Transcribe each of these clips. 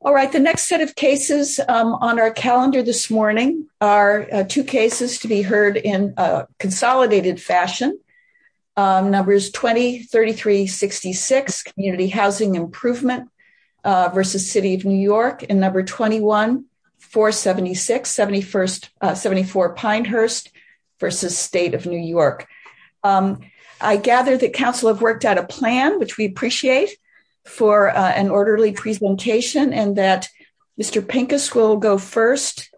All right, the next set of cases on our calendar this morning are two cases to be heard in a consolidated fashion. Numbers 203366 Community Housing Improvement versus City of New York and number 21-476-7474 Pinehurst versus State of New York. I gather that Council have worked out a plan which we appreciate for an orderly presentation and that Mr. Pincus will go first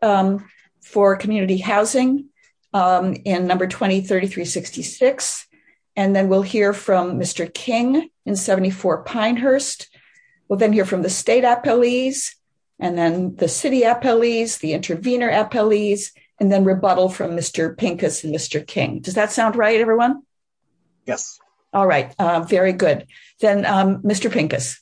for community housing in number 203366 and then we'll hear from Mr. King in 74 Pinehurst, we'll then hear from the State Appellees, and then the City Appellees, the Intervenor Appellees, and then rebuttal from Mr. Pincus and Mr. King. Does that sound right, everyone? Yes. All right. Very good. Then, Mr. Pincus.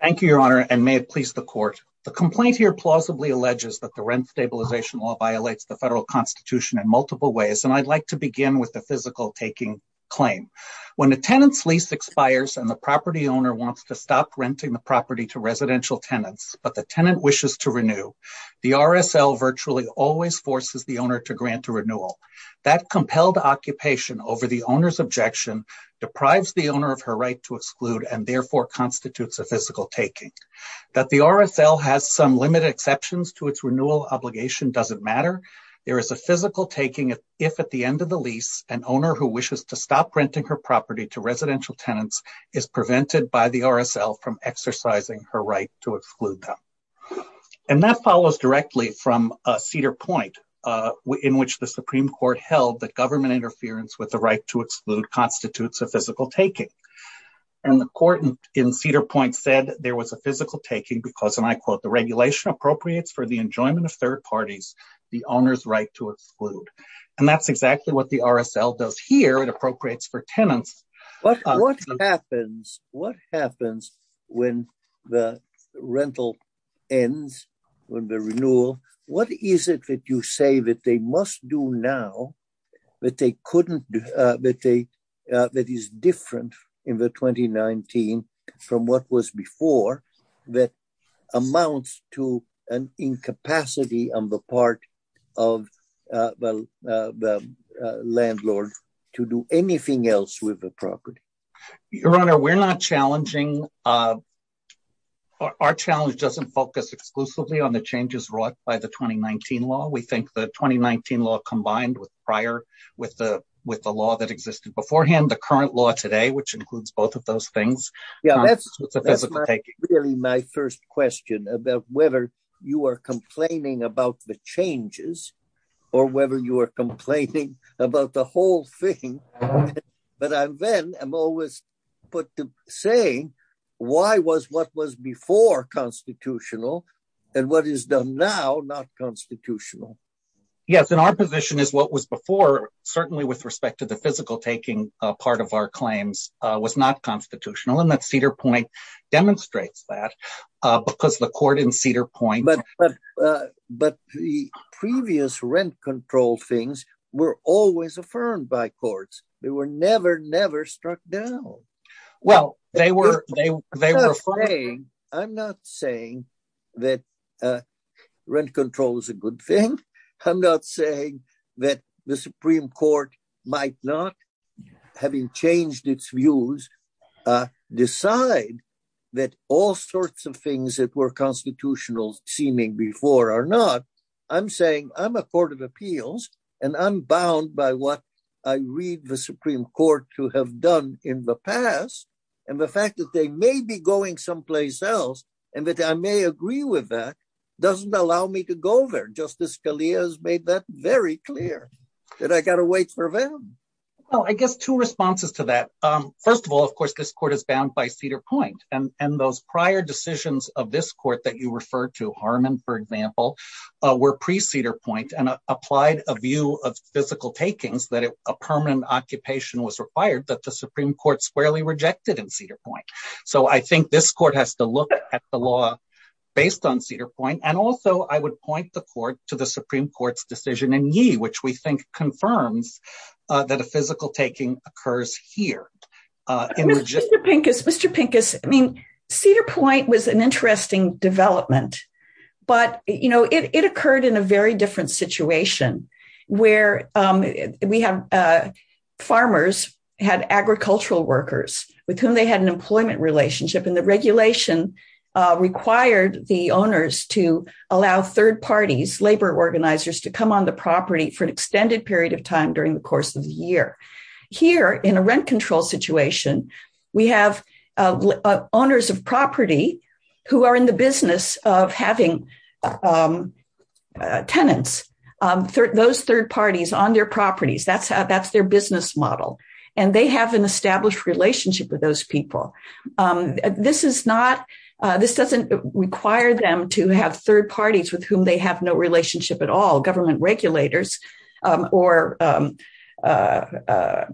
Thank you, Your Honor, and may it please the court. The complaint here plausibly alleges that the rent stabilization law violates the federal constitution in multiple ways and I'd like to begin with the physical taking claim. When the tenant's lease expires and the property owner wants to stop renting the property to residential tenants, but the tenant wishes to renew, the RSL virtually always forces the owner to grant a renewal. That compelled occupation over the owner's objection deprives the owner of her right to exclude and therefore constitutes a physical taking. That the RSL has some limited exceptions to its renewal obligation doesn't matter. There is a physical taking if, at the end of the lease, an owner who wishes to stop renting her property to residential tenants is prevented by the RSL from exercising her right to exclude them. And that follows directly from Cedar Point, in which the Supreme Court held that government interference with the right to exclude constitutes a physical taking. And the court in Cedar Point said there was a physical taking because, and I quote, the regulation appropriates for the enjoyment of third parties, the owner's right to exclude. And that's exactly what the RSL does here. It appropriates for tenants. What happens, what happens when the rental ends, when the renewal, what is it that you say that they must do now that they couldn't, that they, that is different in the 2019 from what was before, that amounts to an incapacity on the part of the landlord to do anything else with the property? Your Honor, we're not challenging, our challenge doesn't focus exclusively on the changes brought by the 2019 law. We think the 2019 law combined with prior, with the, with the law that existed beforehand, the current law today, which includes both of those things. That's really my first question about whether you are complaining about the changes or whether you are complaining about the whole thing. But I'm then, I'm always put to say, why was what was before constitutional and what is done now not constitutional? Yes, in our position is what was before, certainly with respect to the physical taking part of our claims was not constitutional and that Cedar Point demonstrates that because the court in Cedar Point. But, but the previous rent control things were always affirmed by courts. They were never, never struck down. Well, they were, they were. I'm not saying that rent control is a good thing. I'm not saying that the Supreme Court might not, having changed its views, decide that all sorts of things that were constitutional seeming before or not. I'm saying I'm a court of appeals, and I'm bound by what I read the Supreme Court to have done in the past. And the fact that they may be going someplace else, and that I may agree with that doesn't allow me to go there. Justice Scalia has made that very clear that I got to wait for them. Well, I guess two responses to that. First of all, of course, this court is bound by Cedar Point, and those prior decisions of this court that you refer to, Harmon, for example, were pre-Cedar Point and applied a view of physical takings that a permanent occupation was required that the Supreme Court squarely rejected in Cedar Point. So I think this court has to look at the law based on Cedar Point. And also, I would point the court to the Supreme Court's decision in Yee, which we think confirms that a physical taking occurs here. Mr. Pincus, Cedar Point was an interesting development, but it occurred in a very different situation where we have farmers, had agricultural workers with whom they had an employment relationship, and the regulation required the owners to allow third parties, labor organizers, to come on the property for an extended period of time during the course of the year. Here, in a rent control situation, we have owners of property who are in the business of having tenants, those third parties, on their properties. That's their business model. And they have an established relationship with those people. This doesn't require them to have third parties with whom they have no relationship at all, government regulators or labor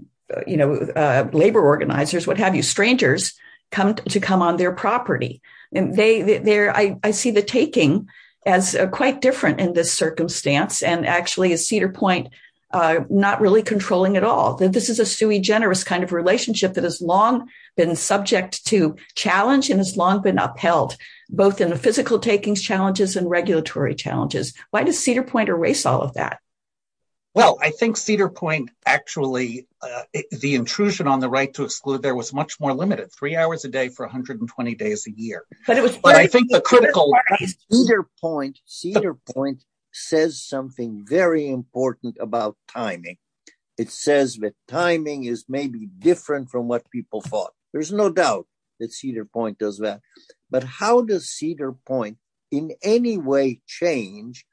organizers, what have you, strangers, to come on their property. I see the taking as quite different in this circumstance. And actually, is Cedar Point not really controlling at all? This is a sui generis kind of relationship that has long been subject to challenge and has long been upheld, both in the physical takings challenges and regulatory challenges. Why does Cedar Point erase all of that? Well, I think Cedar Point actually, the intrusion on the right to exclude there was much more limited, three hours a day for 120 days a year. Cedar Point says something very important about timing. It says that timing is maybe different from what people thought. There's no doubt that Cedar Point does that. But how does Cedar Point in any way change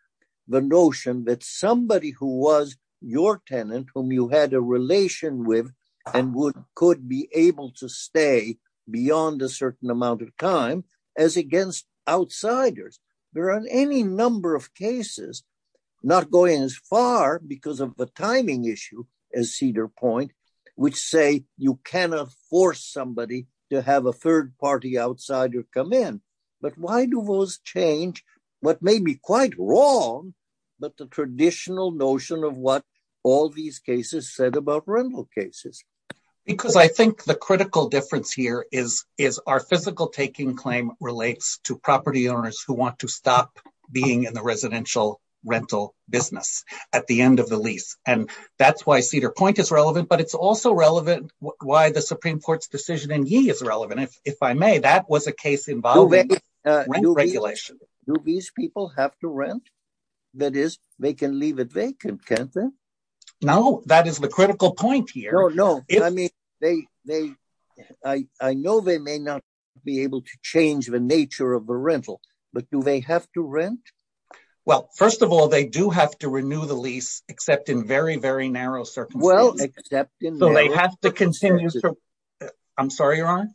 the notion that somebody who was your tenant, whom you had a relation with, and could be able to stay beyond a certain amount of time as against outsiders? There are any number of cases not going as far because of the timing issue as Cedar Point, which say you cannot force somebody to have a third party outsider come in. But why do those change what may be quite wrong, but the traditional notion of what all these cases said about rental cases? Because I think the critical difference here is our physical taking claim relates to property owners who want to stop being in the residential rental business at the end of the lease. And that's why Cedar Point is relevant, but it's also relevant why the Supreme Court's decision in Yee is relevant. If I may, that was a case involving rent regulation. Do these people have to rent? That is, they can leave it vacant, can't they? No, that is the critical point here. No, no. I know they may not be able to change the nature of the rental, but do they have to rent? Well, first of all, they do have to renew the lease, except in very, very narrow circumstances. Well, except in... So they have to continue... I'm sorry, Ron?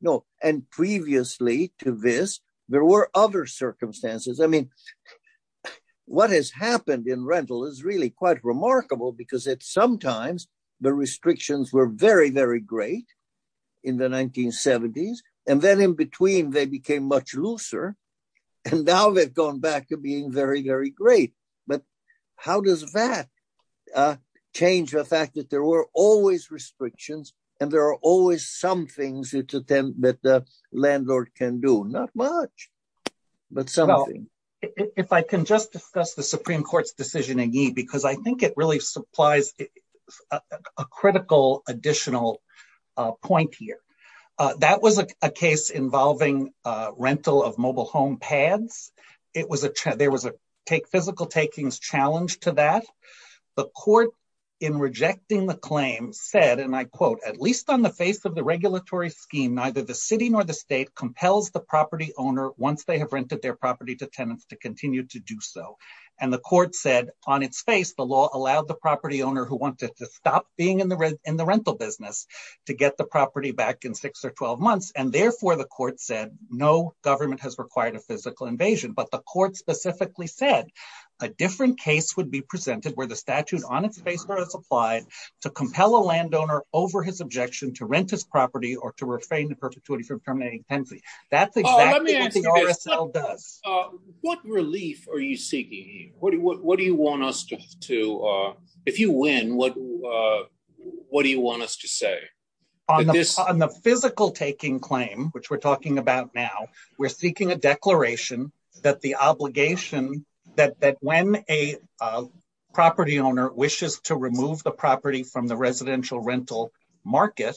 No, and previously to this, there were other circumstances. I mean, what has happened in rental is really quite remarkable because sometimes the restrictions were very, very great in the 1970s. And then in between, they became much looser, and now they've gone back to being very, very great. But how does that change the fact that there were always restrictions and there are always some things that the landlord can do? Not much, but something. If I can just discuss the Supreme Court's decision in Yee, because I think it really supplies a critical additional point here. That was a case involving rental of mobile home pads. There was a physical takings challenge to that. The court in rejecting the claim said, and I quote, What relief are you seeking? What do you want us to... If you win, what do you want us to say? On the physical taking claim, which we're talking about now, we're seeking a declaration that the obligation that when a property owner wishes to remove the property from the residential rental market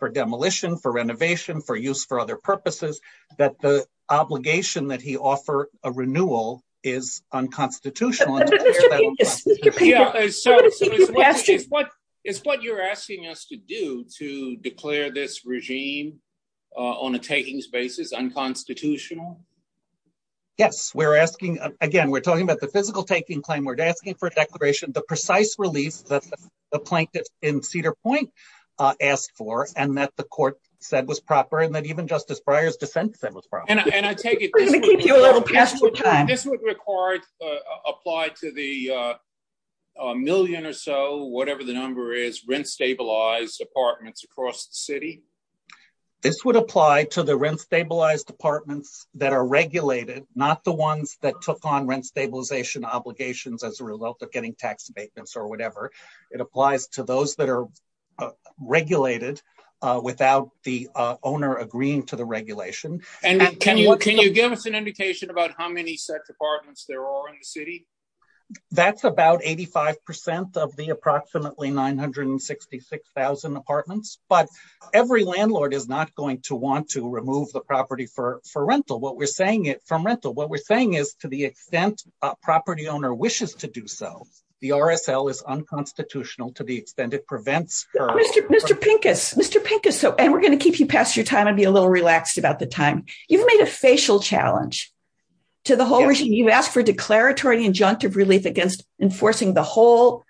for demolition, for renovation, for use for other purposes, that the obligation that he offer a renewal is unconstitutional. It's what you're asking us to do, to declare this regime on a takings basis unconstitutional? Yes, we're asking, again, we're talking about the physical taking claim. We're asking for a declaration, the precise relief that the plaintiffs in Cedar Point asked for, and that the court said was proper, and that even Justice Breyer's defense said was proper. This would apply to the million or so, whatever the number is, rent-stabilized apartments across the city? This would apply to the rent-stabilized apartments that are regulated, not the ones that took on rent stabilization obligations as a result of getting tax payments or whatever. It applies to those that are regulated without the owner agreeing to the regulation. Can you give us an indication about how many such apartments there are in the city? That's about 85% of the approximately 966,000 apartments, but every landlord is not going to want to remove the property from rental. What we're saying is, to the extent a property owner wishes to do so, the RSL is unconstitutional to the extent it prevents... Mr. Pincus, Mr. Pincus, and we're going to keep you past your time and be a little relaxed about the time. You've made a facial challenge to the whole issue. You've asked for declaratory injunctive relief against enforcing the whole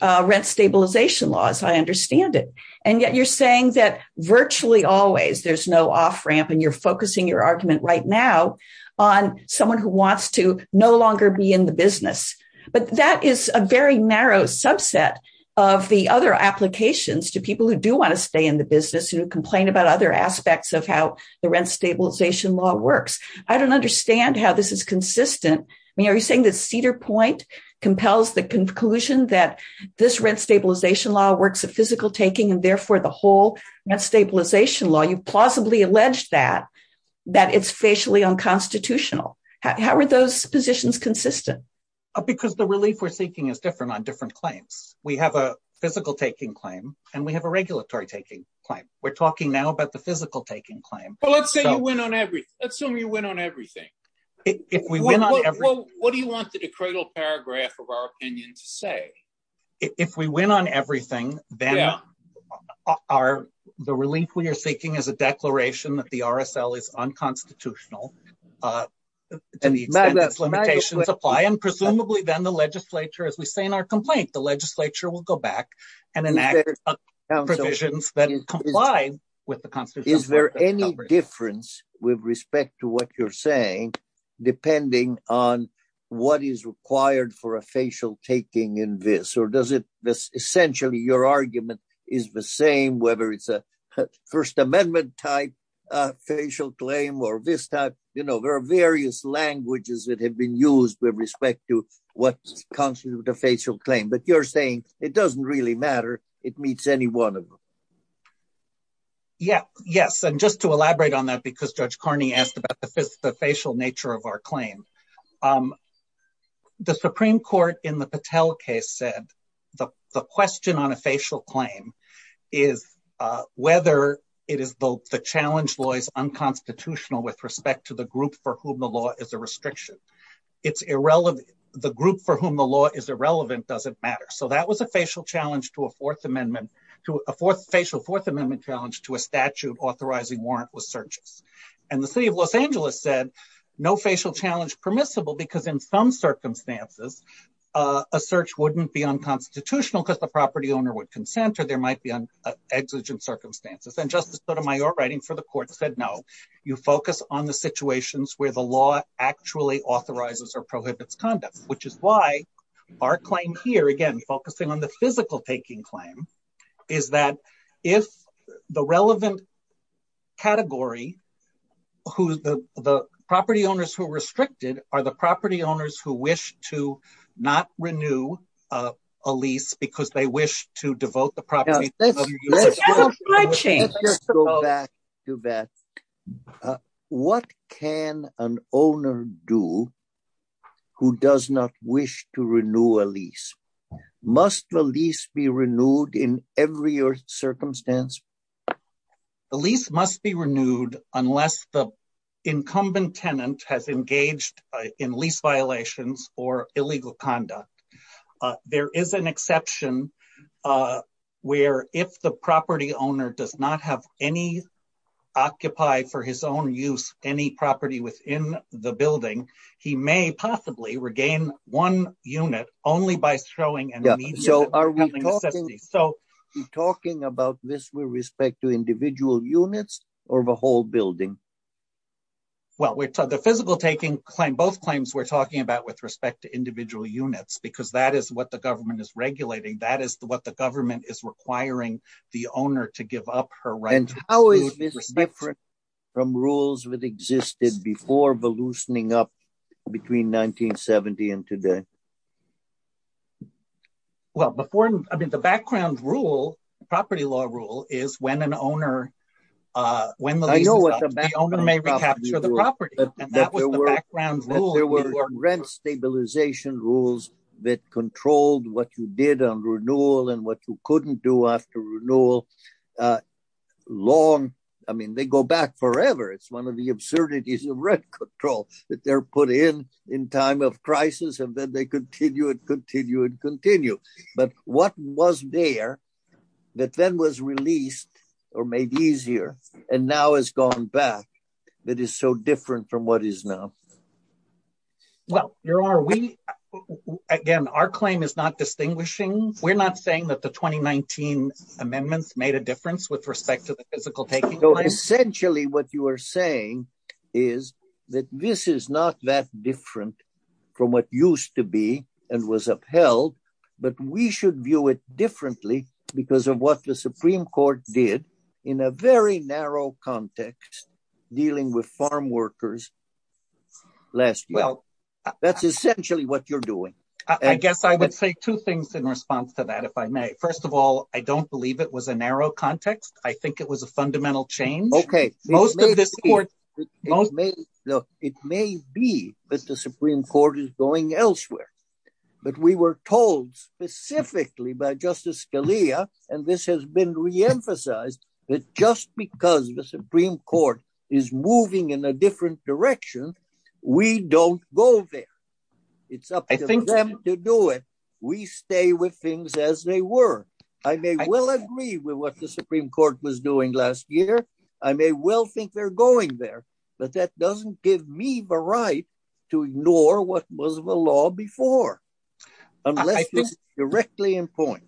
rent stabilization laws, I understand it. And yet you're saying that virtually always there's no off-ramp and you're focusing your argument right now on someone who wants to no longer be in the business. But that is a very narrow subset of the other applications to people who do want to stay in the business and who complain about other aspects of how the rent stabilization law works. I don't understand how this is consistent. Are you saying that Cedar Point compels the conclusion that this rent stabilization law works with physical taking and therefore the whole rent stabilization law, you plausibly alleged that, that it's facially unconstitutional. How are those positions consistent? Because the relief we're seeking is different on different claims. We have a physical taking claim and we have a regulatory taking claim. We're talking now about the physical taking claim. But let's say you went on everything. Assume you went on everything. What do you want the credal paragraph of our opinion to say? If we went on everything, then the relief we are seeking is a declaration that the RSL is unconstitutional. And presumably then the legislature, as we say in our complaint, the legislature will go back and enact provisions that is complied with the constitution. Is there any difference with respect to what you're saying, depending on what is required for a facial taking in this? Or does it, essentially your argument is the same, whether it's a First Amendment type facial claim or this type? You know, there are various languages that have been used with respect to what constitutes a facial claim. But you're saying it doesn't really matter. It meets any one of them. Yeah, yes. And just to elaborate on that, because Judge Carney asked about the facial nature of our claim. The Supreme Court in the Patel case said the question on a facial claim is whether it is both the challenge law is unconstitutional with respect to the group for whom the law is a restriction. It's irrelevant. The group for whom the law is irrelevant doesn't matter. So that was a facial challenge to a Fourth Amendment challenge to a statute authorizing warrantless searches. And the city of Los Angeles said no facial challenge permissible because in some circumstances, a search wouldn't be unconstitutional because the property owner would consent or there might be an exigent circumstances. And Justice Sotomayor writing for the court said no. You focus on the situations where the law actually authorizes or prohibits conduct, which is why our claim here, again, focusing on the physical taking claim, is that if the relevant category, the property owners who are restricted are the property owners who wish to not renew a lease because they wish to devote the property Let's go back to that. What can an owner do who does not wish to renew a lease? Must the lease be renewed in every circumstance? A lease must be renewed unless the incumbent tenant has engaged in lease violations or illegal conduct. There is an exception where if the property owner does not have any occupied for his own use any property within the building, he may possibly regain one unit only by showing an immediate Are we talking about this with respect to individual units or the whole building? Well, the physical taking claim, both claims we're talking about with respect to individual units, because that is what the government is regulating. That is what the government is requiring the owner to give up her right. How is this different from rules that existed before loosening up between 1970 and today? Well, the background rule, property law rule, is when an owner may recapture the property. There were rent stabilization rules that controlled what you did on renewal and what you couldn't do after renewal. Long. I mean, they go back forever. It's one of the absurdities of rent control that they're put in in time of crisis and then they continue and continue and continue. But what was there that then was released or made easier and now has gone back that is so different from what is now? Well, your Honor, we again, our claim is not distinguishing. We're not saying that the 2019 amendments made a difference with respect to the physical taking. So essentially what you are saying is that this is not that different from what used to be and was upheld, but we should view it differently because of what the Supreme Court did in a very narrow context dealing with farm workers. Well, that's essentially what you're doing. I guess I would say two things in response to that, if I may. First of all, I don't believe it was a narrow context. I think it was a fundamental change. It may be that the Supreme Court is going elsewhere, but we were told specifically by Justice Scalia, and this has been re-emphasized, that just because the Supreme Court is moving in a different direction, we don't go there. It's up to them to do it. We stay with things as they were. I may well agree with what the Supreme Court was doing last year. I may well think they're going there, but that doesn't give me the right to ignore what was the law before, unless it's directly in point.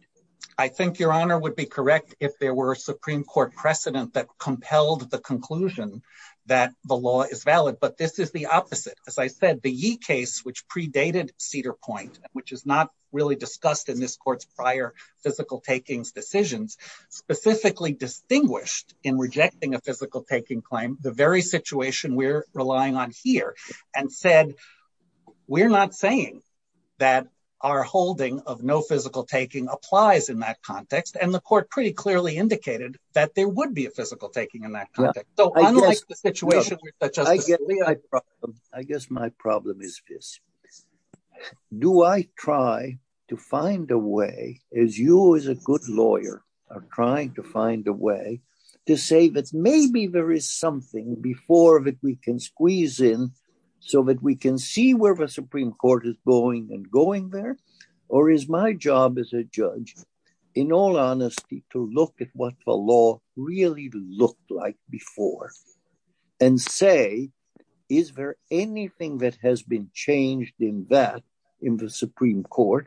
I think Your Honor would be correct if there were a Supreme Court precedent that compelled the conclusion that the law is valid, but this is the opposite. As I said, the Yee case, which predated Cedar Point, which is not really discussed in this court's prior physical takings decisions, specifically distinguished in rejecting a physical taking claim the very situation we're relying on here, and said, we're not saying that our holding of no physical taking applies in that context, and the court pretty clearly indicated that there would be a physical taking in that context. I guess my problem is this. Do I try to find a way, as you as a good lawyer are trying to find a way, to say that maybe there is something before that we can squeeze in so that we can see where the Supreme Court is going and going there? Or is my job as a judge, in all honesty, to look at what the law really looked like before and say, is there anything that has been changed in that in the Supreme Court?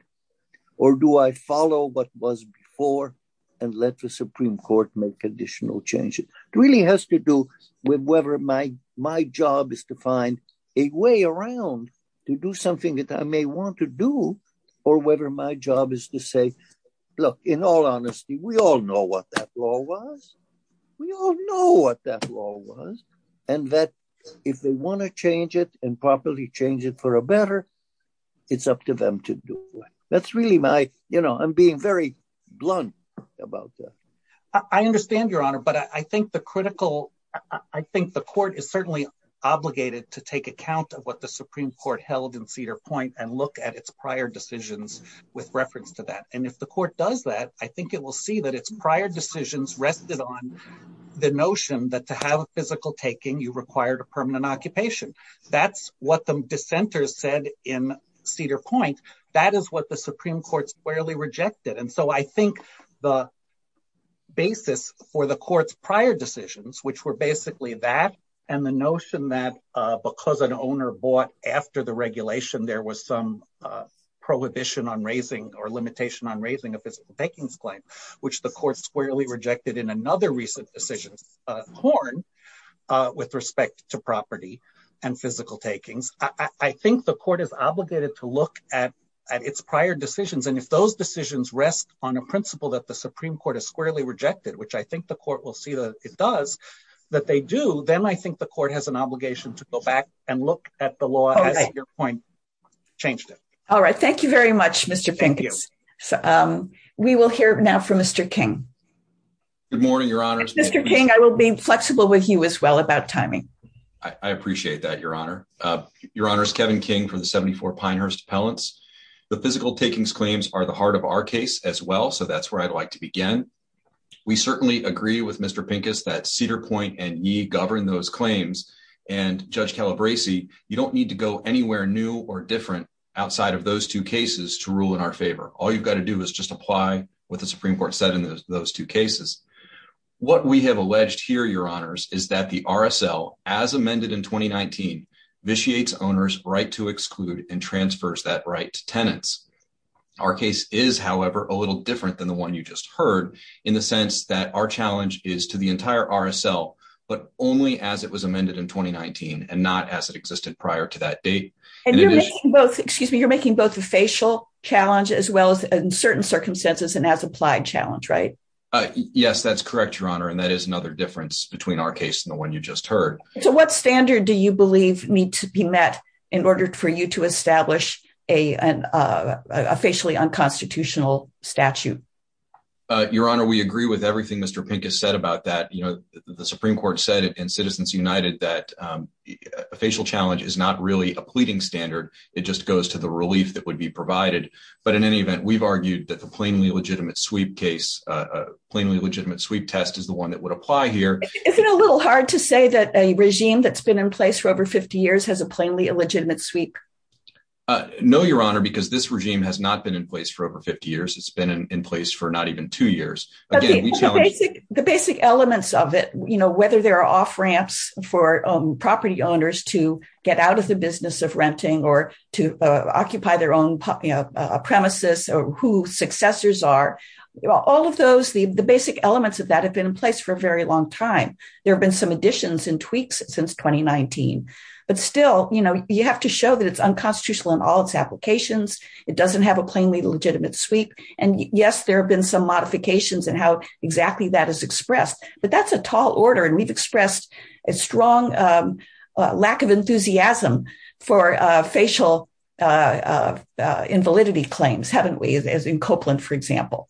Or do I follow what was before and let the Supreme Court make additional changes? It really has to do with whether my job is to find a way around to do something that I may want to do, or whether my job is to say, look, in all honesty, we all know what that law was. We all know what that law was. And that if they want to change it and properly change it for the better, it's up to them to do it. That's really my, you know, I'm being very blunt about that. I understand, Your Honor, but I think the critical, I think the court is certainly obligated to take account of what the Supreme Court held in Cedar Point and look at its prior decisions with reference to that. And if the court does that, I think it will see that its prior decisions rested on the notion that to have a physical taking, you required a permanent occupation. That's what the dissenters said in Cedar Point. That is what the Supreme Court squarely rejected. And so I think the basis for the court's prior decisions, which were basically that and the notion that because an owner bought after the regulation, there was some prohibition on raising or limitation on raising a physical taking claim, which the court squarely rejected in another recent decision, Horn, with respect to property. And physical takings. I think the court is obligated to look at its prior decisions. And if those decisions rest on a principle that the Supreme Court is squarely rejected, which I think the court will see that it does, that they do, then I think the court has an obligation to go back and look at the law. All right. Thank you very much, Mr. We will hear now from Mr. King. Good morning, Your Honor. Mr. King, I will be flexible with you as well about timing. I appreciate that. Your Honor. Your Honor is Kevin King from 74 pioneers pellets. The physical takings claims are the heart of our case as well. So that's where I'd like to begin. We certainly agree with Mr. Pincus that Cedar Point and need govern those claims and Judge Calabrese. You don't need to go anywhere new or different outside of those two cases to rule in our favor. All you've got to do is just apply what the Supreme Court said in those two cases. What we have alleged here, Your Honors, is that the RSL, as amended in 2019, vitiates owners right to exclude and transfers that right to tenants. Our case is, however, a little different than the one you just heard in the sense that our challenge is to the entire RSL, but only as it was amended in 2019 and not as it existed prior to that date. And you're making both, excuse me, you're making both the facial challenge as well as in certain circumstances and as applied challenge, right? Yes, that's correct, Your Honor. And that is another difference between our case and the one you just heard. So what standard do you believe needs to be met in order for you to establish a facially unconstitutional statute? Your Honor, we agree with everything Mr. Pink has said about that. The Supreme Court said in Citizens United that a facial challenge is not really a pleading standard. It just goes to the relief that would be provided. But in any event, we've argued that the plainly legitimate sweep case, plainly legitimate sweep test is the one that would apply here. Is it a little hard to say that a regime that's been in place for over 50 years has a plainly illegitimate sweep? No, Your Honor, because this regime has not been in place for over 50 years. It's been in place for not even two years. The basic elements of it, you know, whether they're off ramps for property owners to get out of the business of renting or to occupy their own premises or who successors are, all of those, the basic elements of that have been in place for a very long time. There have been some additions and tweaks since 2019, but still, you know, you have to show that it's unconstitutional in all its applications. It doesn't have a plainly legitimate sweep. And yes, there have been some modifications and how exactly that is expressed, but that's a tall order. And we've expressed a strong lack of enthusiasm for facial invalidity claims, haven't we, as in Copeland, for example.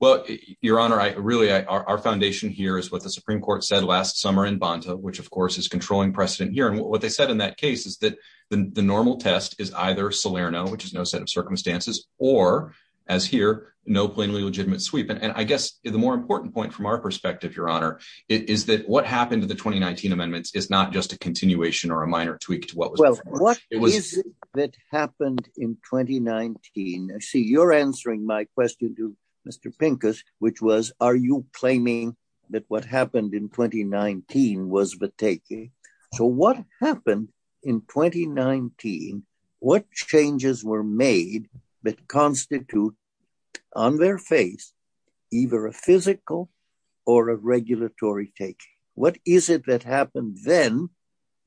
Well, Your Honor, really, our foundation here is what the Supreme Court said last summer in Bonta, which, of course, is controlling precedent here. And what they said in that case is that the normal test is either Salerno, which is no set of circumstances, or as here, no plainly legitimate sweep. And I guess the more important point from our perspective, Your Honor, is that what happened to the 2019 amendments is not just a continuation or a minor tweak to what was before. What is it that happened in 2019? I see you're answering my question to Mr. Pincus, which was, are you claiming that what happened in 2019 was the taking? So what happened in 2019? What changes were made that constitute on their face either a physical or a regulatory take? What is it that happened then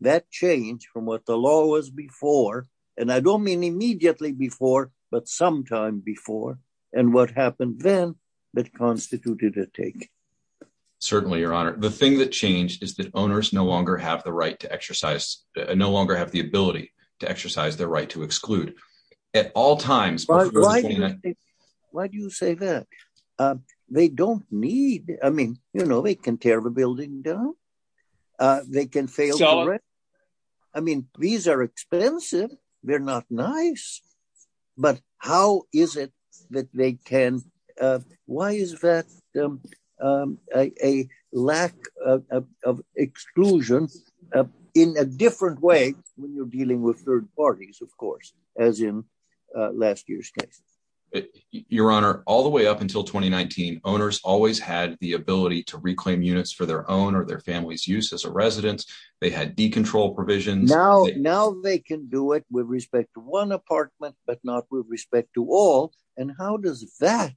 that changed from what the law was before, and I don't mean immediately before, but sometime before, and what happened then that constituted a take? Certainly, Your Honor. The thing that changed is that owners no longer have the right to exercise, no longer have the ability to exercise their right to exclude at all times. Why do you say that? They don't need, I mean, you know, they can tear the building down. They can fail for it. I mean, these are expensive. They're not nice. But how is it that they can, why is that a lack of exclusion in a different way when you're dealing with third parties, of course, as in last year's case? Your Honor, all the way up until 2019, owners always had the ability to reclaim units for their own or their family's use as a resident. They had decontrol provisions. Now they can do it with respect to one apartment, but not with respect to all. And how does that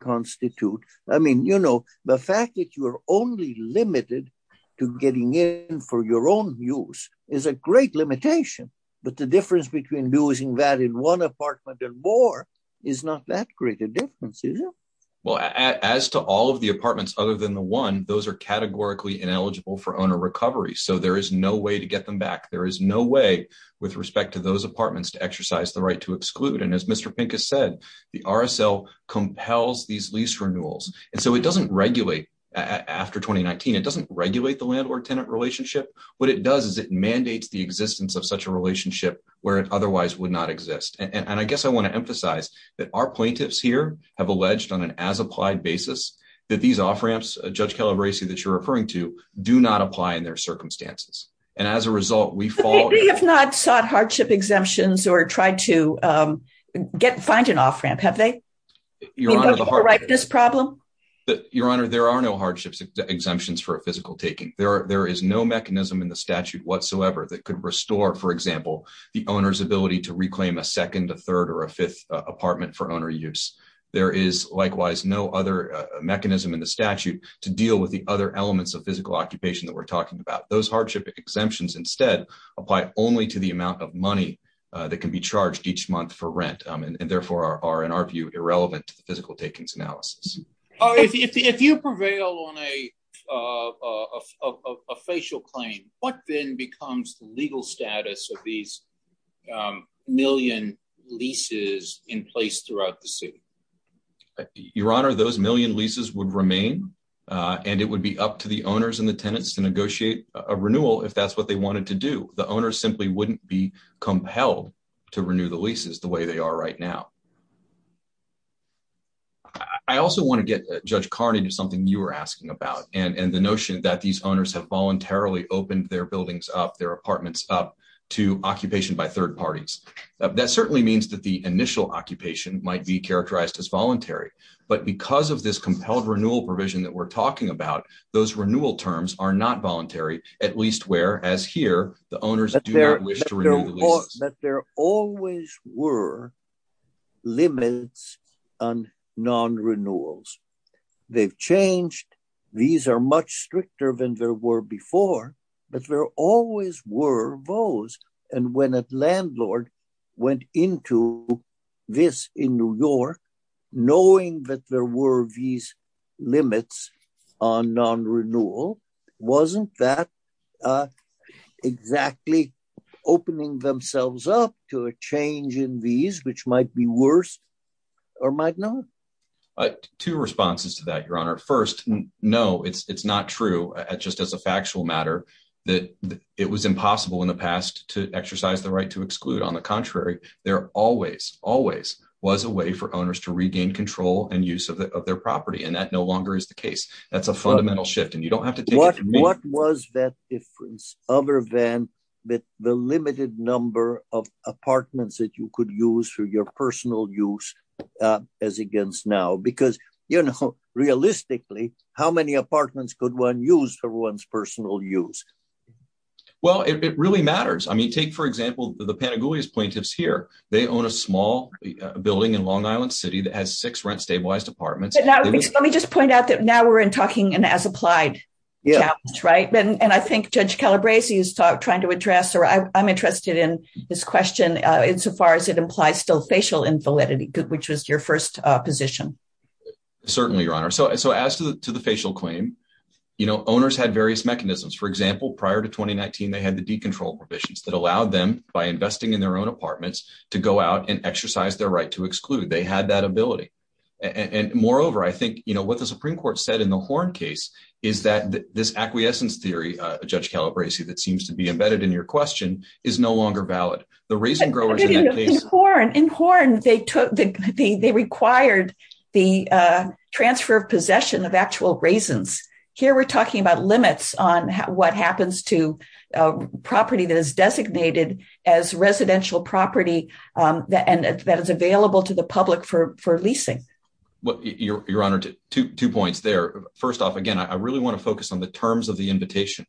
constitute, I mean, you know, the fact that you're only limited to getting in for your own use is a great limitation. But the difference between using that in one apartment and more is not that great a difference, is it? Well, as to all of the apartments other than the one, those are categorically ineligible for owner recovery. So there is no way to get them back. There is no way with respect to those apartments to exercise the right to exclude. And as Mr. Pincus said, the RSL compels these lease renewals. And so it doesn't regulate, after 2019, it doesn't regulate the landlord-tenant relationship. What it does is it mandates the existence of such a relationship where it otherwise would not exist. And I guess I want to emphasize that our plaintiffs here have alleged on an as-applied basis that these off-ramps, Judge Calabresi, that you're referring to, do not apply in their circumstances. And as a result, we fall... They have not sought hardship exemptions or tried to find an off-ramp, have they? Your Honor, the hard... Because of the rightness problem? Your Honor, there are no hardship exemptions for physical taking. There is no mechanism in the statute whatsoever that could restore, for example, the owner's ability to reclaim a second, a third, or a fifth apartment for owner use. There is, likewise, no other mechanism in the statute to deal with the other elements of physical occupation that we're talking about. Those hardship exemptions, instead, apply only to the amount of money that can be charged each month for rent, and therefore are, in our view, irrelevant to physical takings analysis. If you prevail on a facial claim, what then becomes the legal status of these million leases in place throughout the suit? Your Honor, those million leases would remain, and it would be up to the owners and the tenants to negotiate a renewal if that's what they wanted to do. The owners simply wouldn't be compelled to renew the leases the way they are right now. I also want to get, Judge Carney, to something you were asking about, and the notion that these owners have voluntarily opened their buildings up, their apartments up, to occupation by third parties. That certainly means that the initial occupation might be characterized as voluntary, but because of this compelled renewal provision that we're talking about, those renewal terms are not voluntary, at least where, as here, the owners do not wish to renew the leases. But there always were limits on non-renewals. They've changed. These are much stricter than there were before, but there always were those. And when a landlord went into this in New York, knowing that there were these limits on non-renewal, wasn't that exactly opening themselves up to a change in these, which might be worse or might not? Two responses to that, Your Honor. First, no, it's not true, just as a factual matter, that it was impossible in the past to exercise the right to exclude. On the contrary, there always, always was a way for owners to regain control and use of their property, and that no longer is the case. That's a fundamental shift, and you don't have to take it from there. What was that difference, other than the limited number of apartments that you could use for your personal use, as against now? Because, you know, realistically, how many apartments could one use for one's personal use? Well, it really matters. I mean, take, for example, the Panagoulis plaintiffs here. They own a small building in Long Island City that has six rent-stabilized apartments. Let me just point out that now we're talking an as-applied challenge, right? And I think Judge Calabresi is trying to address, or I'm interested in this question, insofar as it implies still facial invalidity, which was your first position. Certainly, Your Honor. So as to the facial claim, you know, owners had various mechanisms. For example, prior to 2019, they had the decontrol provisions that allowed them, by investing in their own apartments, to go out and exercise their right to exclude. They had that ability. And, moreover, I think, you know, what the Supreme Court said in the Horne case is that this acquiescence theory, Judge Calabresi, that seems to be embedded in your question, is no longer valid. The raisin growers in that case— In Horne, they required the transfer of possession of actual raisins. Here we're talking about limits on what happens to property that is designated as residential property that is available to the public for leasing. Your Honor, two points there. First off, again, I really want to focus on the terms of the invitation.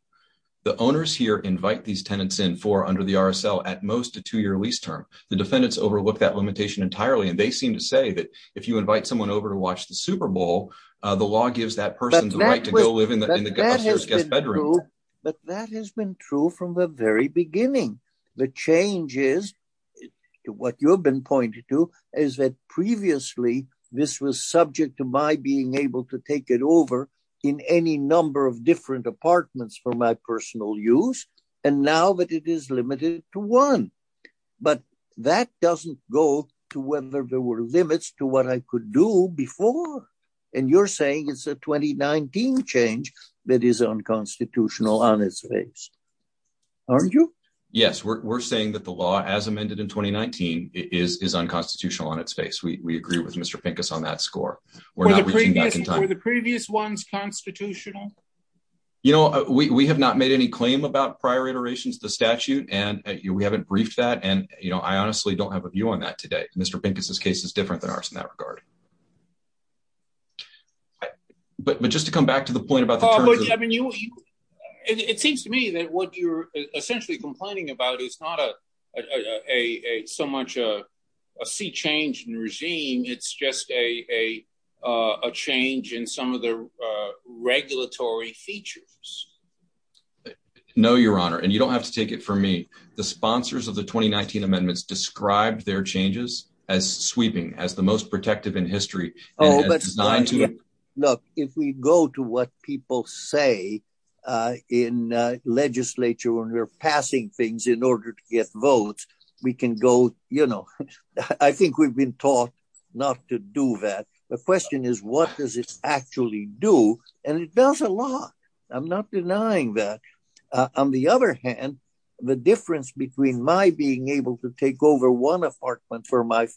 The owners here invite these tenants in for, under the RSL, at most a two-year lease term. The defendants overlook that limitation entirely, and they seem to say that if you invite someone over to watch the Super Bowl, the law gives that person the right to— That has been true from the very beginning. The change is, what you've been pointing to, is that previously this was subject to my being able to take it over in any number of different apartments for my personal use, and now that it is limited to one. But that doesn't go to whether there were limits to what I could do before. And you're saying it's a 2019 change that is unconstitutional on its face, aren't you? Yes, we're saying that the law, as amended in 2019, is unconstitutional on its face. We agree with Mr. Pincus on that score. Were the previous ones constitutional? You know, we have not made any claim about prior iterations of the statute, and we haven't briefed that, and I honestly don't have a view on that today. Mr. Pincus' case is different than ours in that regard. But just to come back to the point about— It seems to me that what you're essentially complaining about is not so much a sea change in regime, it's just a change in some of the regulatory features. No, Your Honor, and you don't have to take it from me. The sponsors of the 2019 amendments described their changes as sweeping, as the most protective in history. Look, if we go to what people say in legislature when we're passing things in order to get votes, we can go, you know— I think we've been taught not to do that. The question is, what does this actually do? And it does a lot. I'm not denying that. On the other hand, the difference between my being able to take over one apartment for my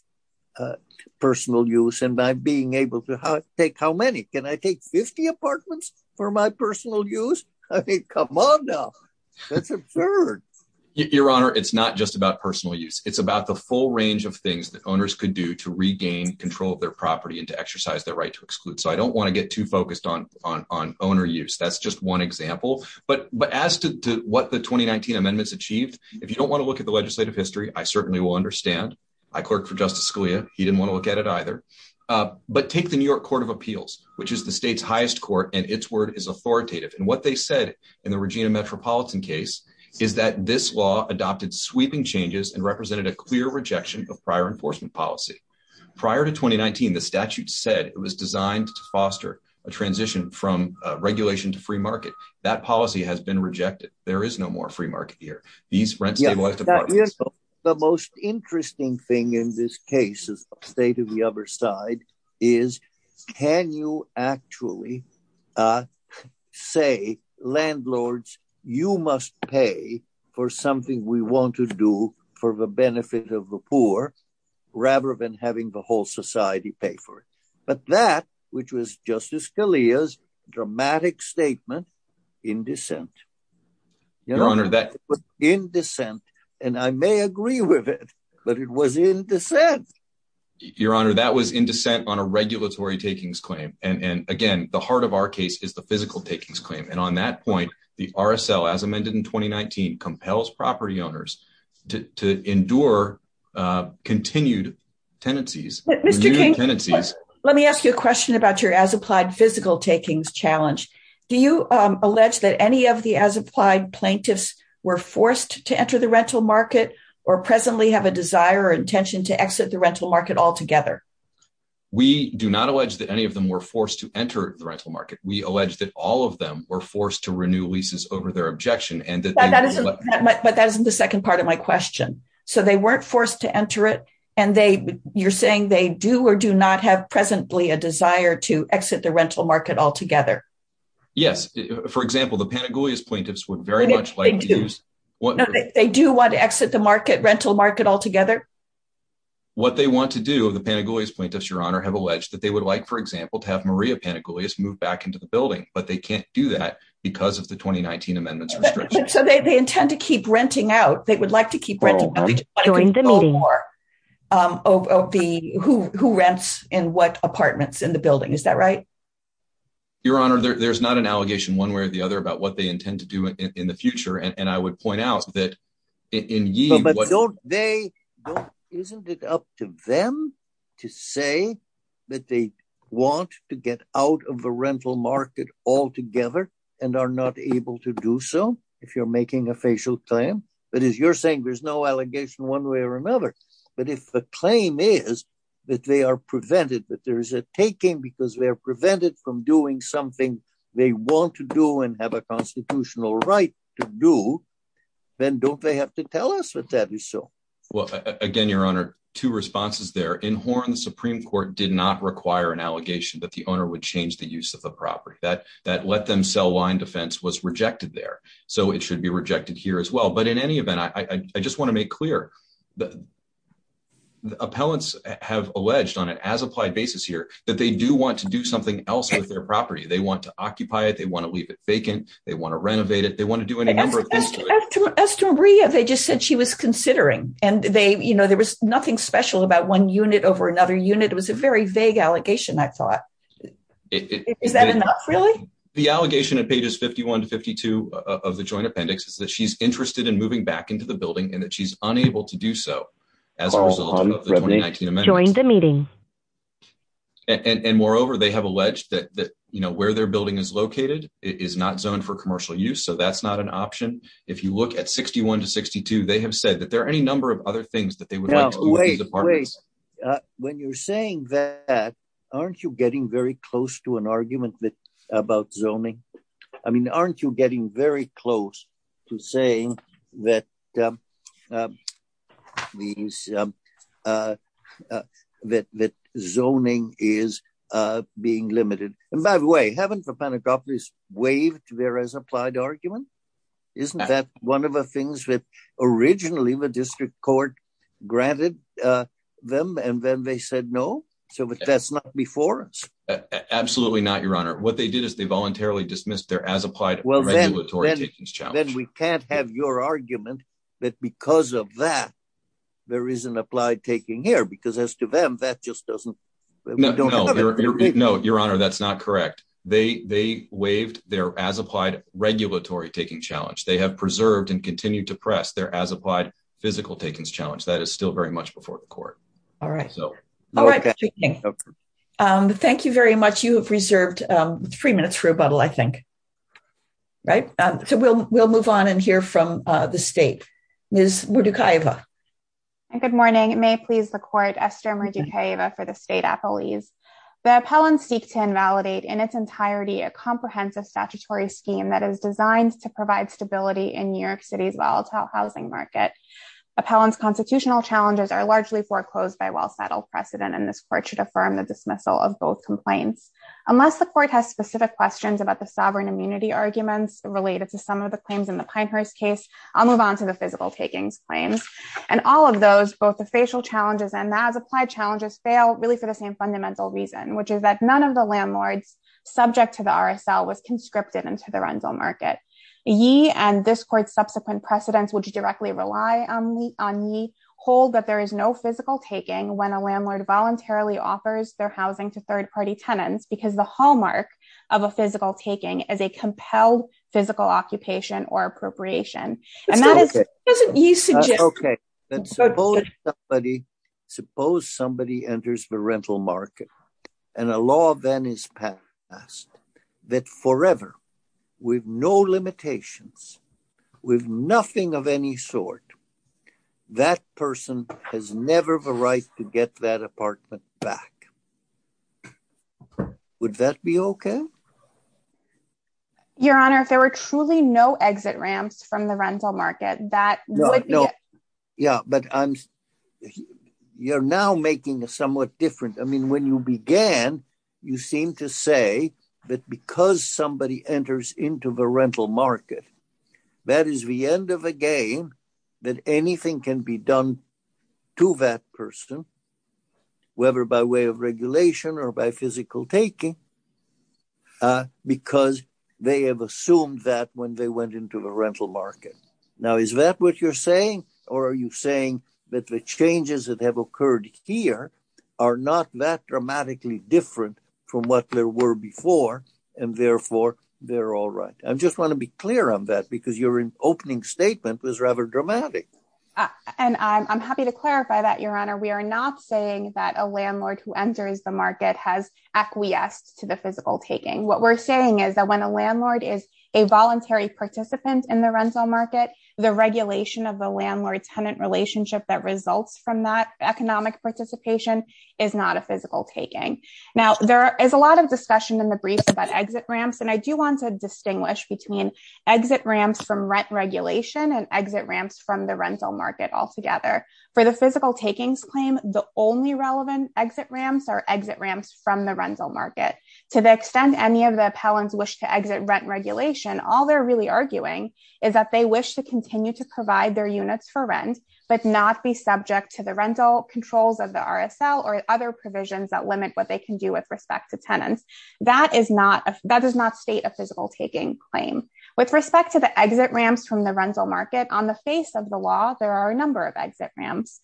personal use and my being able to take how many? Can I take 50 apartments for my personal use? I mean, come on now. That's absurd. Your Honor, it's not just about personal use. It's about the full range of things that owners could do to regain control of their property and to exercise their right to exclude. So I don't want to get too focused on owner use. That's just one example. But as to what the 2019 amendments achieved, if you don't want to look at the legislative history, I certainly will understand. I clerked for Justice Scalia. He didn't want to look at it either. But take the New York Court of Appeals, which is the state's highest court, and its word is authoritative. And what they said in the Regina Metropolitan case is that this law adopted sweeping changes and represented a clear rejection of prior enforcement policy. Prior to 2019, the statute said it was designed to foster a transition from regulation to free market. That policy has been rejected. There is no more free market here. The most interesting thing in this case is the state of the other side is can you actually say, landlords, you must pay for something we want to do for the benefit of the poor, rather than having the whole society pay for it. But that, which was Justice Scalia's dramatic statement in dissent. It was in dissent, and I may agree with it, but it was in dissent. Your Honor, that was in dissent on a regulatory takings claim. And, again, the heart of our case is the physical takings claim. And on that point, the RSL, as amended in 2019, compels property owners to endure continued tenancies. Let me ask you a question about your as-applied physical takings challenge. Do you allege that any of the as-applied plaintiffs were forced to enter the rental market or presently have a desire or intention to exit the rental market altogether? We do not allege that any of them were forced to enter the rental market. We allege that all of them were forced to renew leases over their objection. But that isn't the second part of my question. So they weren't forced to enter it, and you're saying they do or do not have presently a desire to exit the rental market altogether? Yes. For example, the Pantagoulias plaintiffs would very much like to use… They do want to exit the rental market altogether? What they want to do, the Pantagoulias plaintiffs, Your Honor, have alleged that they would like, for example, to have Maria Pantagoulias move back into the building. But they can't do that because of the 2019 amendments. So they intend to keep renting out. They would like to keep renting out. During the meeting. Who rents in what apartments in the building. Is that right? Your Honor, there's not an allegation one way or the other about what they intend to do in the future. Isn't it up to them to say that they want to get out of the rental market altogether and are not able to do so if you're making a facial claim? But as you're saying, there's no allegation one way or another. But if the claim is that they are prevented, that there is a taking because they are prevented from doing something they want to do and have a constitutional right to do, then don't they have to tell us that that is so? Well, again, Your Honor, two responses there. In Horn, the Supreme Court did not require an allegation that the owner would change the use of the property. That let them sell line defense was rejected there. So it should be rejected here as well. But in any event, I just want to make clear that the appellants have alleged on an as applied basis here that they do want to do something else with their property. They want to occupy it. They want to leave it vacant. They want to renovate it. They want to do any number of things. They just said she was considering and they you know, there was nothing special about one unit over another unit. It was a very vague allegation. Is that really the allegation of pages 51 to 52 of the joint appendix that she's interested in moving back into the building and that she's unable to do so during the meeting. And moreover, they have alleged that, you know, where their building is located is not zoned for commercial use. So that's not an option. If you look at 61 to 62, they have said that there are any number of other things that they would. When you're saying that, aren't you getting very close to an argument about zoning? I mean, aren't you getting very close to saying that means that zoning is being limited? And by the way, haven't the panacopolis waived their as applied argument? Isn't that one of the things that originally the district court granted them? And then they said no. So that's not before. Absolutely not, Your Honor. What they did is they voluntarily dismissed their as applied. Well, then we can't have your argument that because of that, there is an applied taking here because as to them, that just doesn't know. Your Honor, that's not correct. They they waived their as applied regulatory taking challenge. They have preserved and continue to press their as applied physical takings challenge. That is still very much before the court. All right. So thank you very much. You have reserved three minutes for rebuttal, I think. Right. So we'll we'll move on and hear from the state. Ms. Murducava. Good morning. May I please record Esther Murducava for the state appellees. The appellants seek to invalidate in its entirety a comprehensive statutory scheme that is designed to provide stability in New York City's low housing market. Appellant's constitutional challenges are largely foreclosed by a well-settled precedent, and this court should affirm the dismissal of both complaints. Unless the court has specific questions about the sovereign immunity arguments related to some of the claims in the Pinehurst case, I'll move on to the physical taking claims. And all of those, both the facial challenges and as applied challenges, fail really for the same fundamental reason, which is that none of the landlords subject to the RSL was conscripted into the rental market. Yee and this court's subsequent precedents, which directly rely on yee, hold that there is no physical taking when a landlord voluntarily offers their housing to third party tenants because the hallmark of a physical taking is a compelled physical occupation or appropriation. Suppose somebody enters the rental market and a law then is passed that forever, with no limitations, with nothing of any sort, that person has never the right to get that apartment back. Would that be okay? Your Honor, if there were truly no exit ramps from the rental market, that would be it. Yeah, but you're now making a somewhat different, I mean, when you began, you seem to say that because somebody enters into the rental market, that is the end of the game, that anything can be done to that person, whether by way of regulation or by physical taking, because they have assumed that when they went into the rental market. Now, is that what you're saying? Or are you saying that the changes that have occurred here are not that dramatically different from what there were before? And therefore, they're all right. I just want to be clear on that because your opening statement was rather dramatic. And I'm happy to clarify that, Your Honor. We are not saying that a landlord who enters the market has acquiesced to the physical taking. What we're saying is that when a landlord is a voluntary participant in the rental market, the regulation of the landlord-tenant relationship that results from that economic participation is not a physical taking. Now, there is a lot of discussion in the brief about exit ramps, and I do want to distinguish between exit ramps from rent regulation and exit ramps from the rental market altogether. For the physical takings claim, the only relevant exit ramps are exit ramps from the rental market. To the extent any of the appellants wish to exit rent regulation, all they're really arguing is that they wish to continue to provide their units for rent, but not be subject to the rental controls of the RSL or other provisions that limit what they can do with respect to tenants. That does not state a physical taking claim. With respect to the exit ramps from the rental market, on the face of the law, there are a number of exit ramps.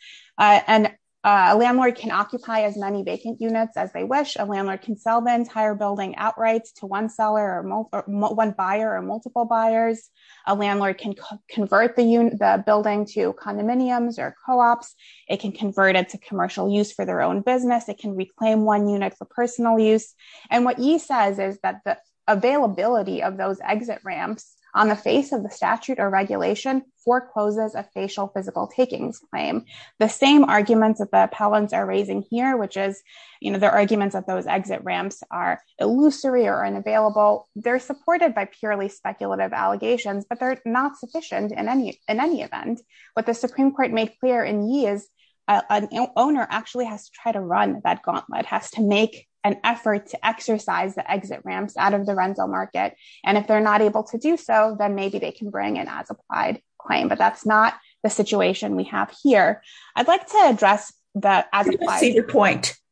A landlord can occupy as many vacant units as they wish. A landlord can sell the entire building outright to one buyer or multiple buyers. A landlord can convert the building to condominiums or co-ops. It can convert it to commercial use for their own business. It can reclaim one unit for personal use. What Yi says is that the availability of those exit ramps on the face of the statute or regulation forecloses a spatial physical takings claim. The same arguments that the appellants are raising here, which is the arguments that those exit ramps are illusory or unavailable, they're supported by purely speculative allegations, but they're not sufficient in any event. What the Supreme Court made clear in Yi is an owner actually has to try to run that gauntlet, has to make an effort to exercise the exit ramps out of the rental market. If they're not able to do so, then maybe they can bring an as-applied claim, but that's not the situation we have here.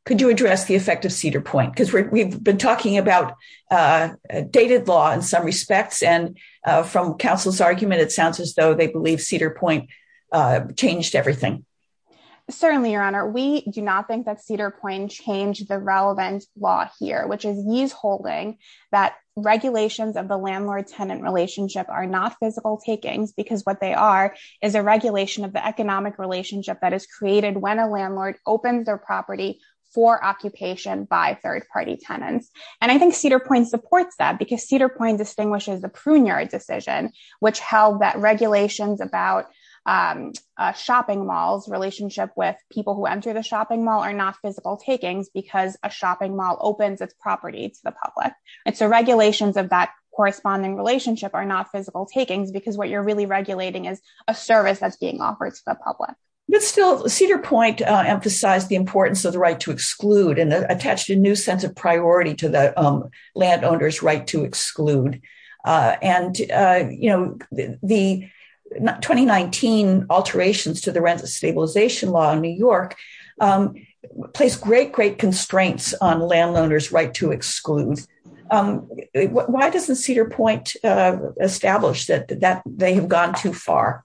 Could you address the effect of Cedar Point? Because we've been talking about dated law in some respects, and from counsel's argument, it sounds as though they believe Cedar Point changed everything. Certainly, Your Honor. We do not think that Cedar Point changed the relevant law here, which is Yi's holding that regulations of the landlord-tenant relationship are not physical takings because what they are is a regulation of the economic relationship that is created when a landlord opens their property for occupation by third-party tenants. I think Cedar Point supports that because Cedar Point distinguishes the Pruneyard decision, which held that regulations about a shopping mall's relationship with people who enter the shopping mall are not physical takings because a shopping mall opens its property to the public. The regulations of that corresponding relationship are not physical takings because what you're really regulating is a service that's being offered to the public. Cedar Point emphasized the importance of the right to exclude and attached a new sense of priority to the landowner's right to exclude. The 2019 alterations to the rent stabilization law in New York placed great, great constraints on landowners' right to exclude. Why doesn't Cedar Point establish that they have gone too far?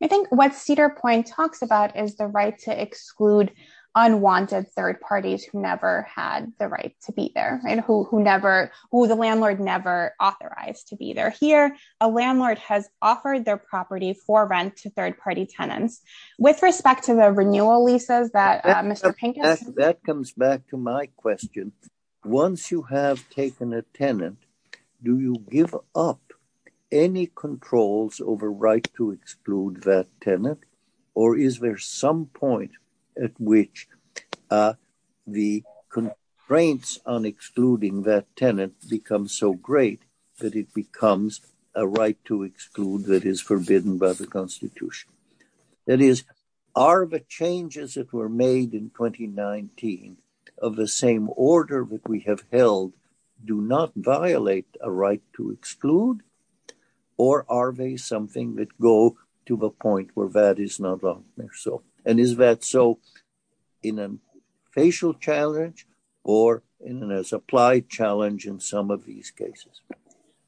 I think what Cedar Point talks about is the right to exclude unwanted third parties who never had the right to be there and who the landlord never authorized to be there. Here, a landlord has offered their property for rent to third-party tenants. With respect to the renewal leases that Mr. Pinkham- That is, are the changes that were made in 2019 of the same order that we have held do not violate a right to exclude? Or are they something that go to the point where that is not so? And is that so in a facial challenge or in a supply challenge in some of these cases?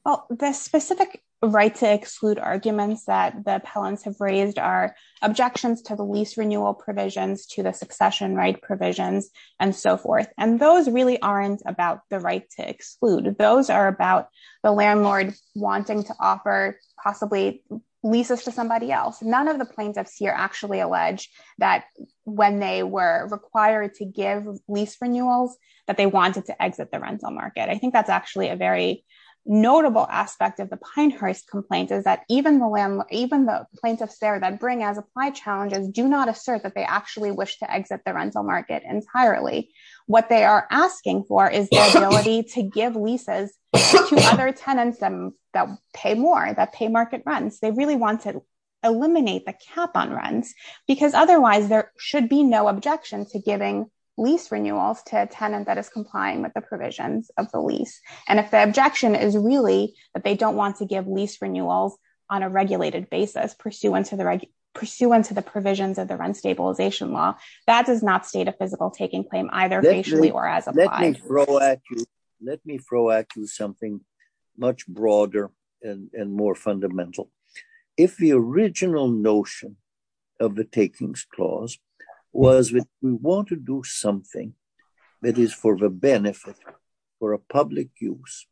Well, the specific right to exclude arguments that the appellants have raised are objections to the lease renewal provisions, to the succession right provisions, and so forth. And those really aren't about the right to exclude. Those are about the landlord wanting to offer possibly leases to somebody else. None of the plaintiffs here actually allege that when they were required to give lease renewals, that they wanted to exit the rental market. I think that's actually a very notable aspect of the Pine Hearth complaint is that even the plaintiffs there that bring as supply challenges do not assert that they actually wish to exit the rental market entirely. What they are asking for is the ability to give leases to other tenants that pay more, that pay market rent. They really want to eliminate the cap on rent, because otherwise there should be no objection to giving lease renewals to a tenant that is complying with the provisions of the lease. And if the objection is really that they don't want to give lease renewals on a regulated basis pursuant to the provisions of the rent stabilization law, that does not state a physical taking claim either facially or as applied. Let me throw at you something much broader and more fundamental. If the original notion of the takings clause was that we want to do something that is for the benefit, for a public use,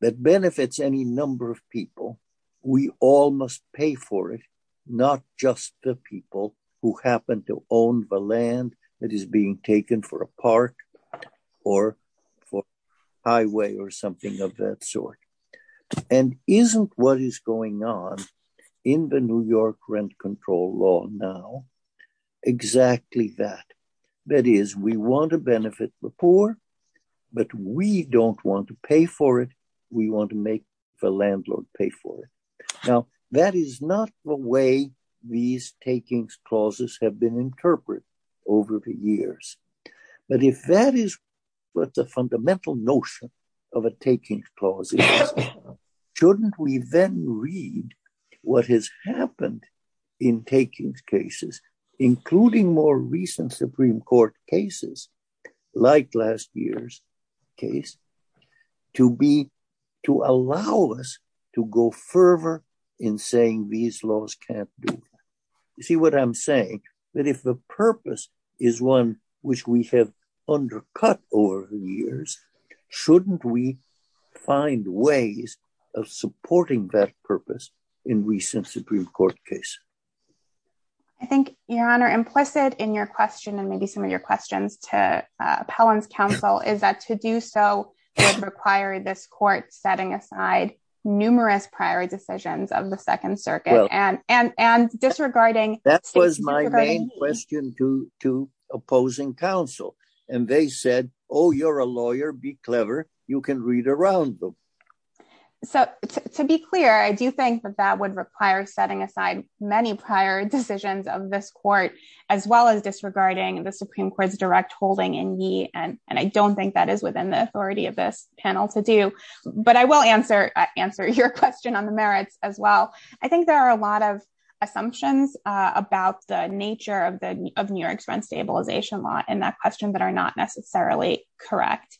that benefits any number of people, we all must pay for it. Not just the people who happen to own the land that is being taken for a park or for highway or something of that sort. And isn't what is going on in the New York rent control law now exactly that? That is, we want to benefit the poor, but we don't want to pay for it. We want to make the landlord pay for it. Now, that is not the way these takings clauses have been interpreted over the years. But if that is what the fundamental notion of a takings clause is, shouldn't we then read what has happened in takings cases, including more recent Supreme Court cases like last year's case, to be, to allow us to go further in saying these laws can't be. You see what I'm saying? That if the purpose is one which we have undercut over the years, shouldn't we find ways of supporting that purpose in recent Supreme Court case? I think, Your Honor, implicit in your question and maybe some of your questions to appellant counsel is that to do so would require this court setting aside numerous prior decisions of the Second Circuit and disregarding. That was my main question to opposing counsel. And they said, oh, you're a lawyer. Be clever. You can read around them. So to be clear, I do think that that would require setting aside many prior decisions of this court, as well as disregarding the Supreme Court's direct holding in ye. And I don't think that is within the authority of this panel to do, but I will answer your question on the merits as well. I think there are a lot of assumptions about the nature of New York's rent stabilization law in that question that are not necessarily correct.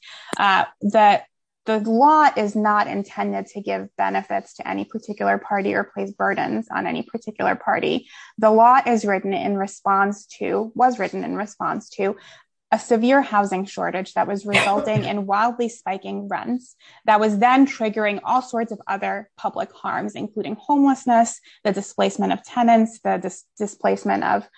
The law is not intended to give benefits to any particular party or place burdens on any particular party. The law is written in response to, was written in response to, a severe housing shortage that was resulting in wildly spiking rents that was then triggering all sorts of other public harms, including homelessness, the displacement of tenants, the displacement of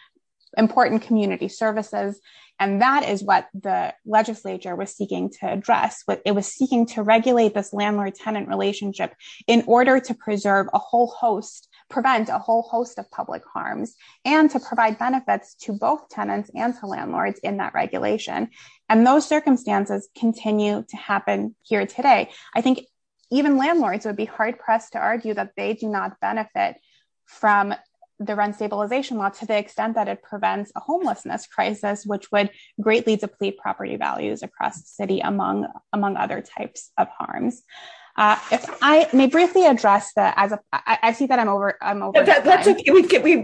important community services. And that is what the legislature was seeking to address. It was seeking to regulate this landlord-tenant relationship in order to preserve a whole host, prevent a whole host of public harms, and to provide benefits to both tenants and to landlords in that regulation. And those circumstances continue to happen here today. I think even landlords would be hard-pressed to argue that they do not benefit from the rent stabilization law to the extent that it prevents a homelessness crisis, which would greatly deplete property values across the city, among other types of harm. I may briefly address that. I see that I'm over.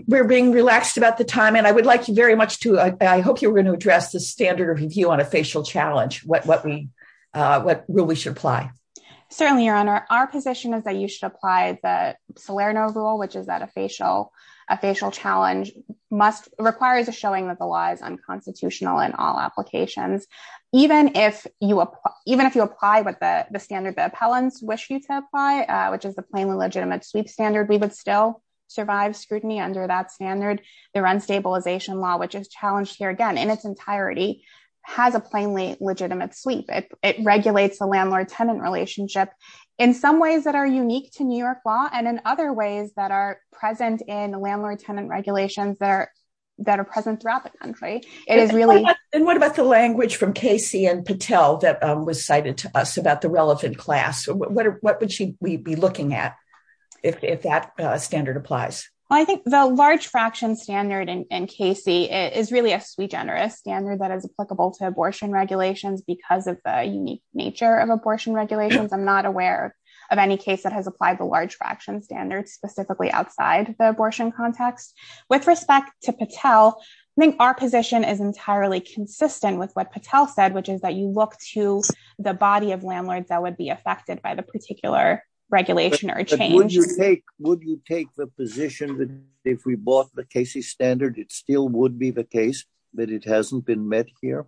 We're being relaxed about the time, and I would like to very much to, I hope you're going to address the standard of review on a facial challenge, what we, what rule we should apply. Certainly, Your Honor. Our position is that you should apply the Salerno rule, which is that a facial, a facial challenge must, requires a showing that the law is unconstitutional in all applications. Even if you apply, even if you apply what the standard the appellants wish you to apply, which is the plainly legitimate sleep standard, we would still survive scrutiny under that standard. The rent stabilization law, which is challenged here again in its entirety, has a plainly legitimate sleep. It regulates the landlord-tenant relationship in some ways that are unique to New York law and in other ways that are present in the landlord-tenant regulations that are present throughout the country. And what about the language from Casey and Patel that was cited to us about the relative class? What would you be looking at if that standard applies? Well, I think the large fraction standard in Casey is really a sui generis standard that is applicable to abortion regulations because of the unique nature of abortion regulations. I'm not aware of any case that has applied the large fraction standard specifically outside the abortion context. With respect to Patel, I think our position is entirely consistent with what Patel said, which is that you look to the body of landlords that would be affected by the particular regulation or change. Would you take the position that if we bought the Casey standard, it still would be the case that it hasn't been met here?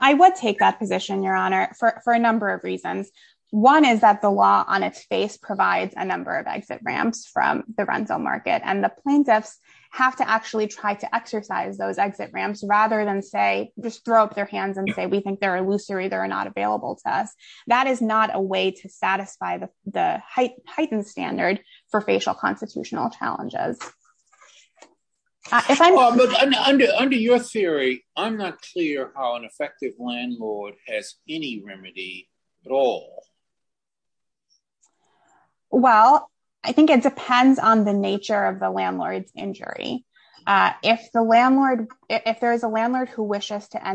I would take that position, Your Honor, for a number of reasons. One is that the law on its face provides a number of exit ramps from the rental market, and the plaintiffs have to actually try to exercise those exit ramps rather than say, just throw up their hands and say, we think they're illusory, they're not available to us. That is not a way to satisfy the Titan standard for facial constitutional challenges. Under your theory, I'm not clear how an effective landlord has any remedy at all. Well, I think it depends on the nature of the landlord's injury. If there is a landlord who wishes to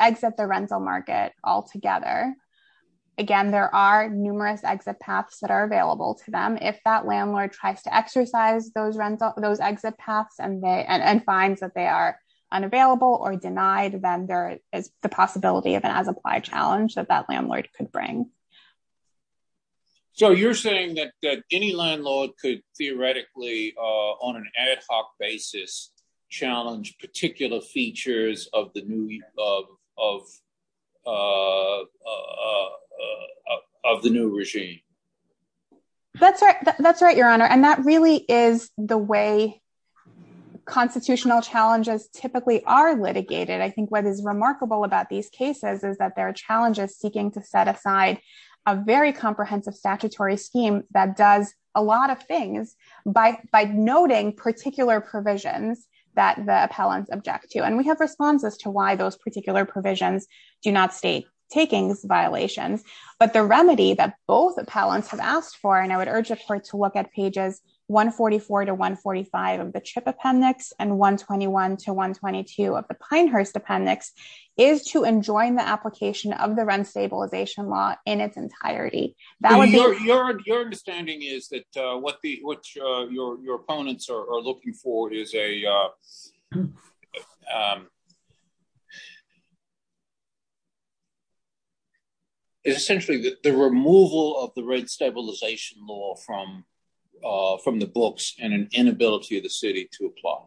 exit the rental market altogether, again, there are numerous exit paths that are available to them. If that landlord tries to exercise those exit paths and finds that they are unavailable or denied, then there is the possibility of an as-applied challenge that that landlord could bring. So you're saying that any landlord could theoretically, on an ad hoc basis, challenge particular features of the new regime? That's right, Your Honor. And that really is the way constitutional challenges typically are litigated. I think what is remarkable about these cases is that there are challenges seeking to set aside a very comprehensive statutory scheme that does a lot of things by noting particular provisions that the appellants object to. And we have responses to why those particular provisions do not state takings violations. But the remedy that both appellants have asked for, and I would urge us to look at pages 144 to 145 of the CHIP appendix and 121 to 122 of the Pinehurst appendix, is to enjoin the application of the rent stabilization law in its entirety. Your understanding is that what your opponents are looking for is essentially the removal of the rent stabilization law from the books and an inability of the city to apply.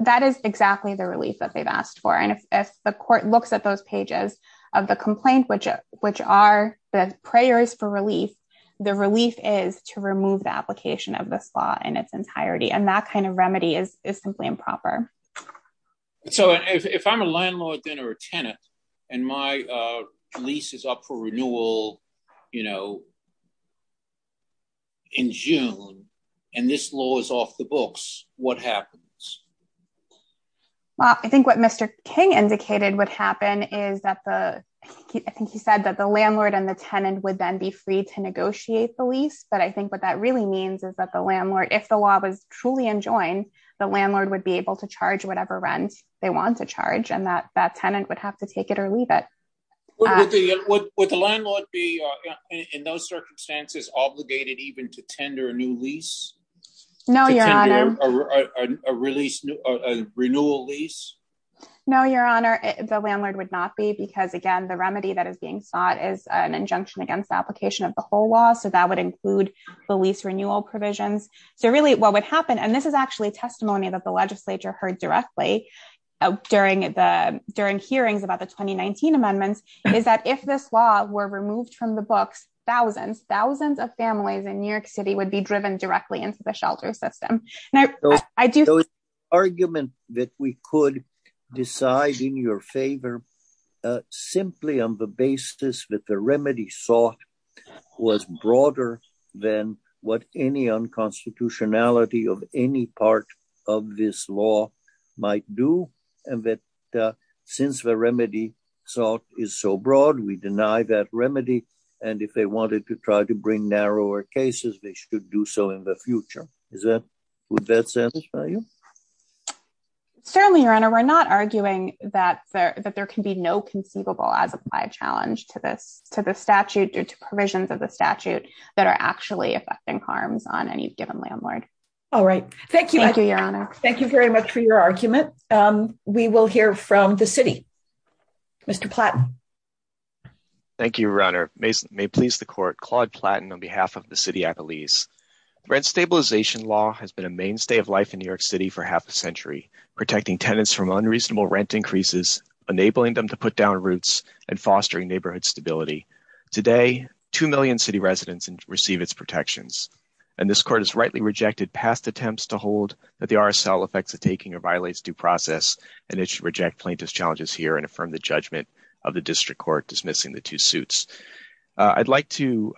That is exactly the relief that they've asked for. And if the court looks at those pages of the complaint, which are the prayers for relief, the relief is to remove the application of this law in its entirety. And that kind of remedy is simply improper. So if I'm a landlord then or a tenant, and my lease is up for renewal in June, and this law is off the books, what happens? I think what Mr. King indicated would happen is that the landlord and the tenant would then be free to negotiate the lease. But I think what that really means is that if the law was truly enjoined, the landlord would be able to charge whatever rent they want to charge, and that tenant would have to take it or leave it. Would the landlord be, in those circumstances, obligated even to tender a new lease? No, Your Honor. A renewal lease? No, Your Honor, the landlord would not be because, again, the remedy that is being sought is an injunction against the application of the whole law. So that would include the lease renewal provisions. So really what would happen, and this is actually testimony that the legislature heard directly during hearings about the 2019 amendments, is that if this law were removed from the books, thousands, thousands of families in New York City would be driven directly into the shelter system. So the argument that we could decide in your favor simply on the basis that the remedy sought was broader than what any unconstitutionality of any part of this law might do, and that since the remedy sought is so broad, we deny that remedy, and if they wanted to try to bring narrower cases, they should do so in the future. Would that satisfy you? Certainly, Your Honor. We're not arguing that there can be no conceivable as-applied challenge to the statute or to provisions of the statute that are actually affecting harms on any given landlord. All right. Thank you, Your Honor. Thank you very much for your argument. We will hear from the city. Mr. Platton. Thank you, Your Honor. May it please the Court, Claude Platton on behalf of the city at the lease. Rent stabilization law has been a mainstay of life in New York City for half a century, protecting tenants from unreasonable rent increases, enabling them to put down roots, and fostering neighborhood stability. Today, 2 million city residents receive its protections, and this Court has rightly rejected past attempts to hold that the RSL affects the taking or violates due process, and it should reject plaintiff's challenges here and affirm the judgment of the district court dismissing the two suits. I'd like to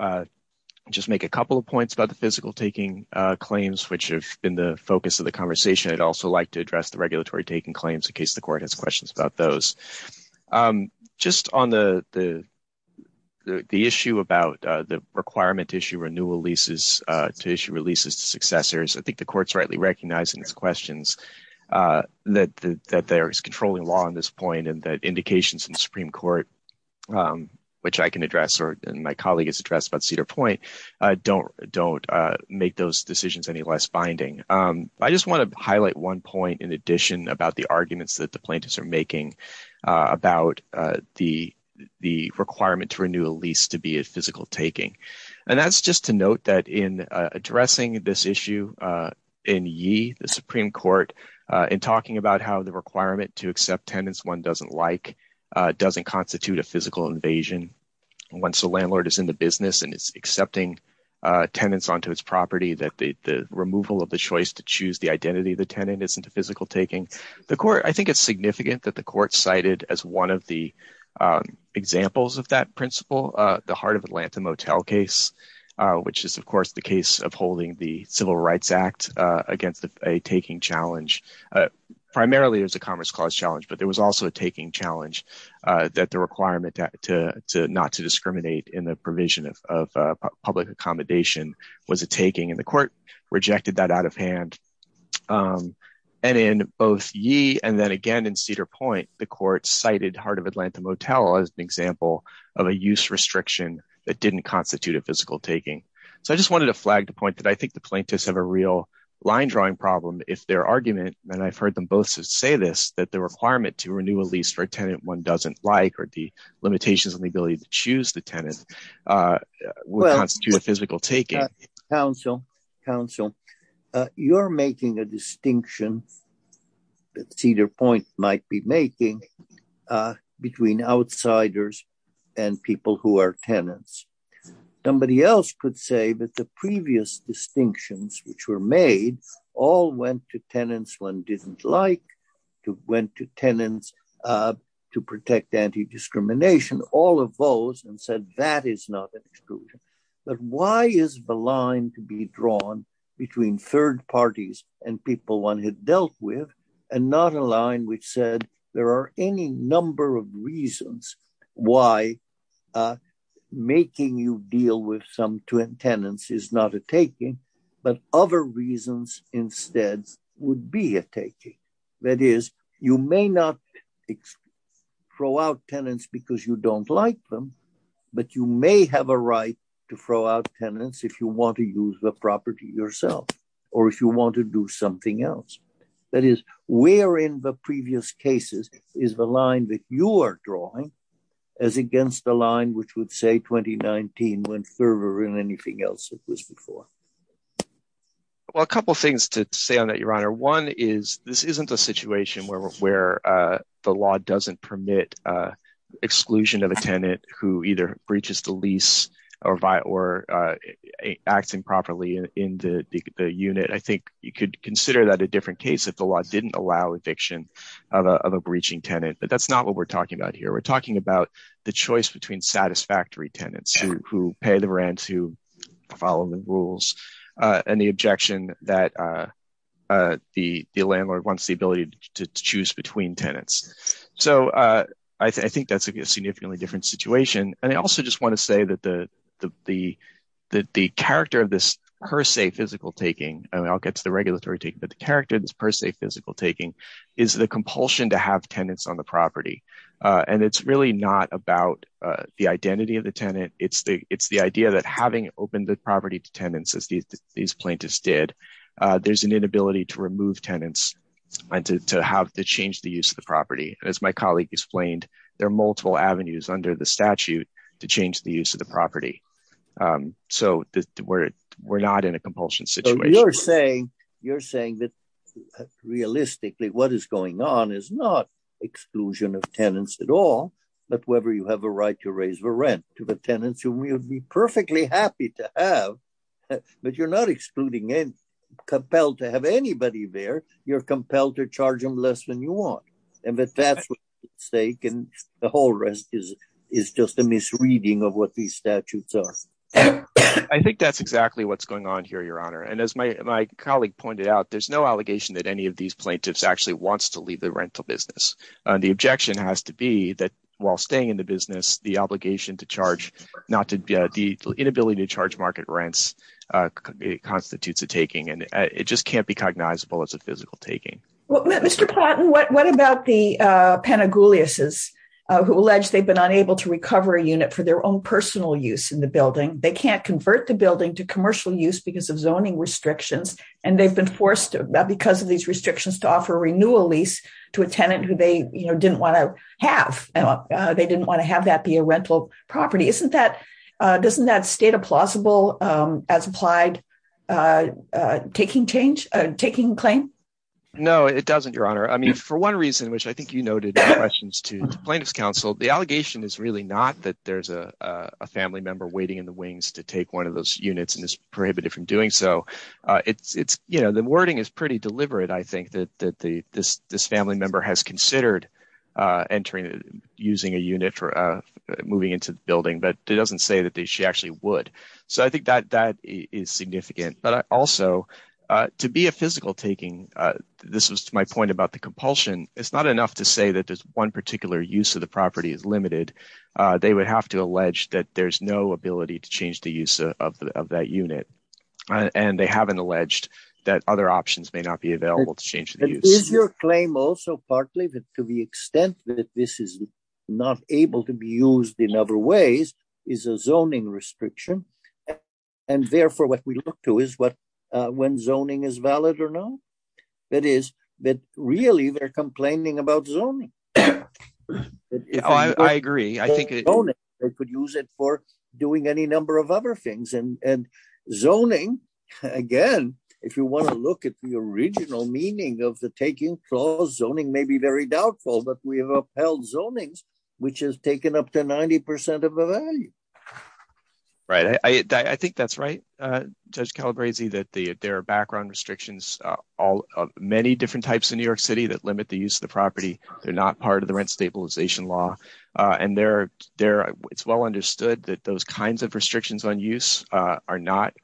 just make a couple of points about the physical taking claims, which have been the focus of the conversation. I'd also like to address the regulatory taking claims in case the Court has questions about those. Just on the issue about the requirement to issue renewal leases to issue releases to successors, I think the Court's rightly recognizing these questions, that there's controlling law on this point and that indications in the Supreme Court, which I can address and my colleague has addressed about Cedar Point, don't make those decisions any less binding. I just want to highlight one point in addition about the arguments that the plaintiffs are making about the requirement to renew a lease to be a physical taking, and that's just to note that in addressing this issue in Yee, the Supreme Court, and talking about how the requirement to accept tenants one doesn't like doesn't constitute a physical invasion. Once the landlord is in the business and it's accepting tenants onto its property, that the removal of the choice to choose the identity of the tenant isn't a physical taking. I think it's significant that the Court cited as one of the examples of that principle, the Heart of Atlanta Motel case, which is, of course, the case of holding the Civil Rights Act against a taking challenge. Primarily, it was a commerce clause challenge, but there was also a taking challenge that the requirement not to discriminate in the provision of public accommodation was a taking, and the Court rejected that out of hand. In both Yee and then again in Cedar Point, the Court cited Heart of Atlanta Motel as an example of a use restriction that didn't constitute a physical taking. I just wanted to flag the point that I think the plaintiffs have a real line drawing problem if their argument, and I've heard them both say this, that the requirement to renew a lease for a tenant one doesn't like or the limitations on the ability to choose the tenant will constitute a physical taking. Counsel, you're making a distinction that Cedar Point might be making between outsiders and people who are tenants. Somebody else could say that the previous distinctions which were made all went to tenants one didn't like, went to tenants to protect anti-discrimination, all of those, and said that is not an exclusion. But why is the line to be drawn between third parties and people one had dealt with and not a line which said there are any number of reasons why making you deal with some tenants is not a taking, but other reasons instead would be a taking? That is, you may not throw out tenants because you don't like them, but you may have a right to throw out tenants if you want to use the property yourself or if you want to do something else. That is, where in the previous cases is the line that you are drawing as against the line which would say 2019 went further than anything else that was before? Well, a couple of things to say on that, Your Honor. One is this isn't a situation where the law doesn't permit exclusion of a tenant who either breaches the lease or acting properly in the unit. I think you could consider that a different case if the law didn't allow eviction of a breaching tenant, but that's not what we're talking about here. We're talking about the choice between satisfactory tenants who pay the rent, who follow the rules, and the objection that the landlord wants the ability to choose between tenants. I think that's a significantly different situation. I also just want to say that the character of this per se physical taking, and I'll get to the regulatory taking, but the character of this per se physical taking is the compulsion to have tenants on the property. And it's really not about the identity of the tenant. It's the idea that having opened the property to tenants, as these plaintiffs did, there's an inability to remove tenants and to change the use of the property. As my colleague explained, there are multiple avenues under the statute to change the use of the property. So we're not in a compulsion situation. You're saying that, realistically, what is going on is not exclusion of tenants at all, but whether you have a right to raise the rent to the tenants, whom you'd be perfectly happy to have, but you're not excluding any, compelled to have anybody there. You're compelled to charge them less than you want. And that that's a mistake, and the whole rest is just a misreading of what these statutes are. I think that's exactly what's going on here, Your Honor. And as my colleague pointed out, there's no allegation that any of these plaintiffs actually wants to leave the rental business. The objection has to be that while staying in the business, the inability to charge market rents constitutes a taking, and it just can't be cognizable as a physical taking. Mr. Plotin, what about the Pantagoulases, who allege they've been unable to recover a unit for their own personal use in the building? They can't convert the building to commercial use because of zoning restrictions, and they've been forced, because of these restrictions, to offer a renewal lease to a tenant who they didn't want to have. They didn't want to have that be a rental property. Isn't that state a plausible, as implied, taking claim? No, it doesn't, Your Honor. I mean, for one reason, which I think you noted in your questions to the Plaintiffs' Council, the allegation is really not that there's a family member waiting in the wings to take one of those units and is prohibited from doing so. The wording is pretty deliberate, I think, that this family member has considered using a unit for moving into the building, but it doesn't say that she actually would. So I think that is significant. But also, to be a physical taking, this is my point about the compulsion, it's not enough to say that there's one particular use of the property is limited. They would have to allege that there's no ability to change the use of that unit, and they haven't alleged that other options may not be available to change the use. Your claim also, partly, to the extent that this is not able to be used in other ways, is a zoning restriction. And therefore, what we look to is when zoning is valid or not. That is, that really, they're complaining about zoning. I agree. They could use it for doing any number of other things. And zoning, again, if you want to look at the original meaning of the taking clause, zoning may be very doubtful, but we have upheld zoning, which has taken up to 90% of the value. Right. I think that's right, Judge Calabresi, that there are background restrictions of many different types in New York City that limit the use of the property. They're not part of the rent stabilization law. And it's well understood that those kinds of restrictions on use are not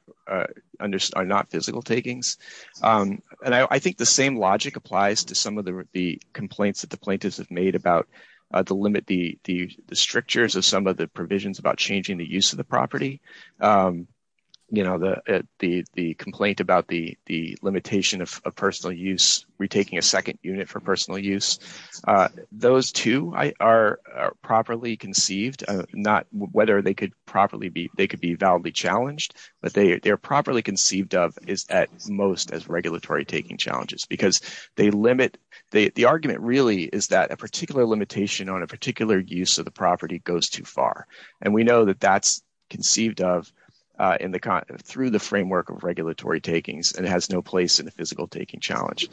physical takings. And I think the same logic applies to some of the complaints that the plaintiffs have made about the limit, the strictures of some of the provisions about changing the use of the property. You know, the complaint about the limitation of personal use, retaking a second unit for personal use. Those two are properly conceived, not whether they could be validly challenged, but they're properly conceived of at most as regulatory taking challenges. Because the argument really is that a particular limitation on a particular use of the property goes too far. And we know that that's conceived of through the framework of regulatory takings, and it has no place in a physical taking challenge.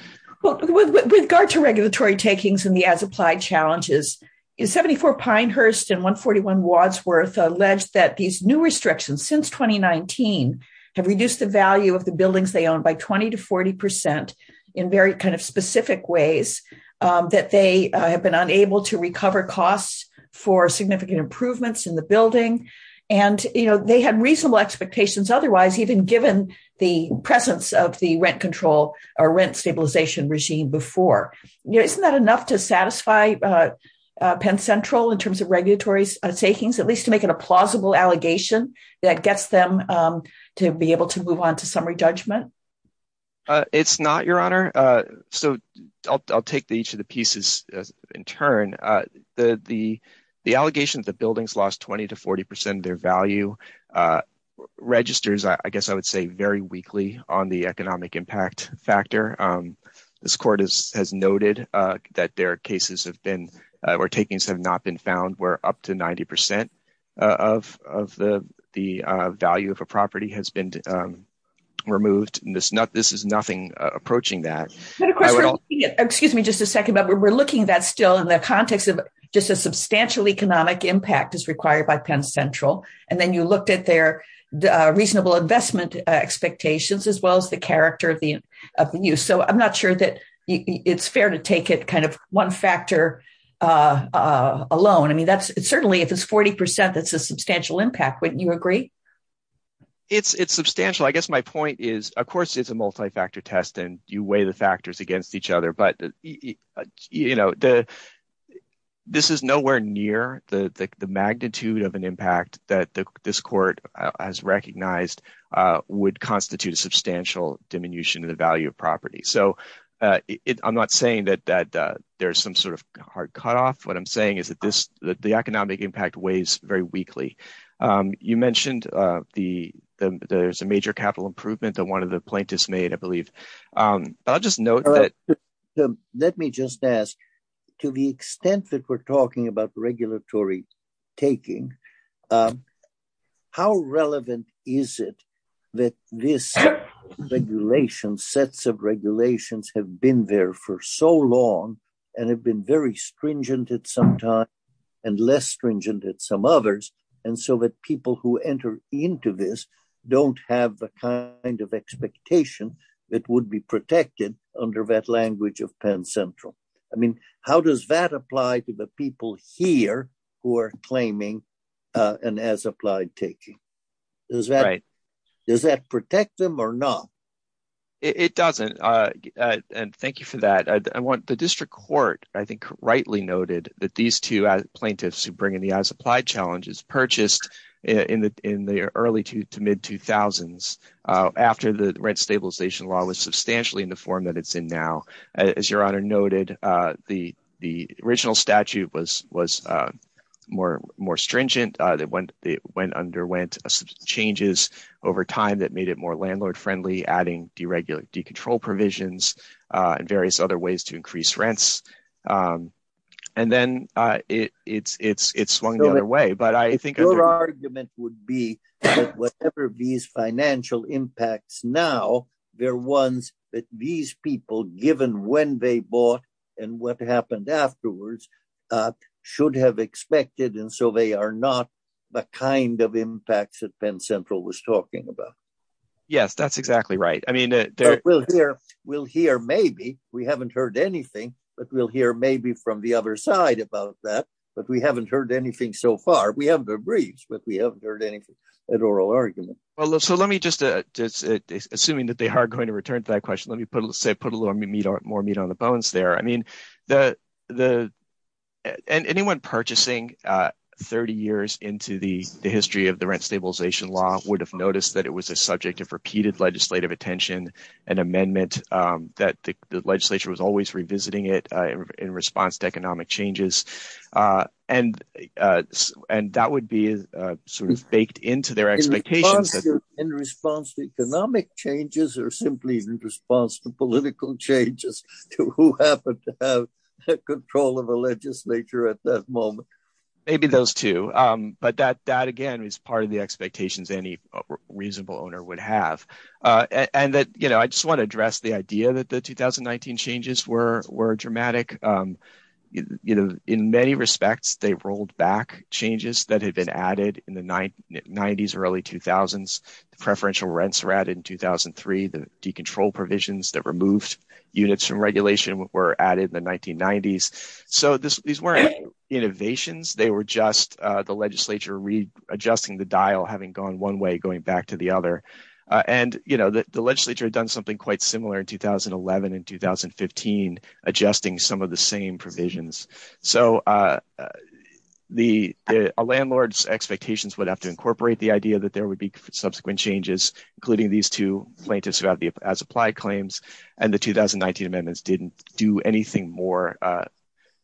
With regard to regulatory takings and the as-applied challenges, 74 Pinehurst and 141 Wadsworth allege that these new restrictions since 2019 have reduced the value of the buildings they own by 20 to 40% in very kind of specific ways, that they have been unable to recover costs for significant improvements in the building, and they had reasonable expectations otherwise, even given the presence of the rent control or rent stabilization regime before. Isn't that enough to satisfy Penn Central in terms of regulatory takings, at least to make it a plausible allegation that gets them to be able to move on to summary judgment? It's not, Your Honor. So I'll take each of the pieces in turn. The allegation that the buildings lost 20 to 40% of their value registers, I guess I would say, very weakly on the economic impact factor. This Court has noted that their cases have been, or takings have not been found, where up to 90% of the value of a property has been removed. This is nothing approaching that. Excuse me just a second, but we're looking at that still in the context of just a substantial economic impact is required by Penn Central. And then you looked at their reasonable investment expectations, as well as the character of the use. So I'm not sure that it's fair to take it kind of one factor alone. I mean, certainly if it's 40%, that's a substantial impact. Wouldn't you agree? It's substantial. I guess my point is, of course, it's a multi-factor test, and you weigh the factors against each other. But this is nowhere near the magnitude of an impact that this Court has recognized would constitute a substantial diminution in the value of property. So I'm not saying that there's some sort of hard cutoff. What I'm saying is that the economic impact weighs very weakly. You mentioned there's a major capital improvement that one of the plaintiffs made, I believe. Let me just ask, to the extent that we're talking about regulatory taking, how relevant is it that this regulation, sets of regulations, have been there for so long, and have been very stringent at some time, and less stringent at some others, and so that people who enter into this don't have the kind of expectation that would be protected under that language of Penn Central? I mean, how does that apply to the people here who are claiming an as-applied taking? Does that protect them or not? It doesn't, and thank you for that. The District Court, I think, rightly noted that these two plaintiffs who bring in the as-applied challenges purchased in the early to mid-2000s, after the rent stabilization law was substantially in the form that it's in now. As your Honor noted, the original statute was more stringent. It underwent some changes over time that made it more landlord-friendly, adding deregulated control provisions and various other ways to increase rents, and then it swung the other way. Your argument would be that whatever these financial impacts now, they're ones that these people, given when they bought and what happened afterwards, should have expected, and so they are not the kind of impacts that Penn Central was talking about. Yes, that's exactly right. We'll hear maybe. We haven't heard anything, but we'll hear maybe from the other side about that, but we haven't heard anything so far. We have the briefs, but we haven't heard an oral argument. Assuming that they are going to return to that question, let me put a little more meat on the bones there. Anyone purchasing 30 years into the history of the rent stabilization law would have noticed that it was a subject of repeated legislative attention and amendment, that the legislature was always revisiting it in response to economic changes, and that would be baked into their expectations. In response to economic changes or simply in response to political changes? Who happened to have control of the legislature at that moment? Maybe those two, but that, again, is part of the expectations any reasonable owner would have. I just want to address the idea that the 2019 changes were dramatic. In many respects, they rolled back changes that had been added in the 1990s, early 2000s. Preferential rents were added in 2003. The decontrolled provisions that removed units from regulation were added in the 1990s. These weren't innovations. They were just the legislature readjusting the dial, having gone one way, going back to the other. The legislature had done something quite similar in 2011 and 2015, adjusting some of the same provisions. A landlord's expectations would have to incorporate the idea that there would be subsequent changes, including these two plaintiffs who have the as-applied claims, and the 2019 amendments didn't do anything more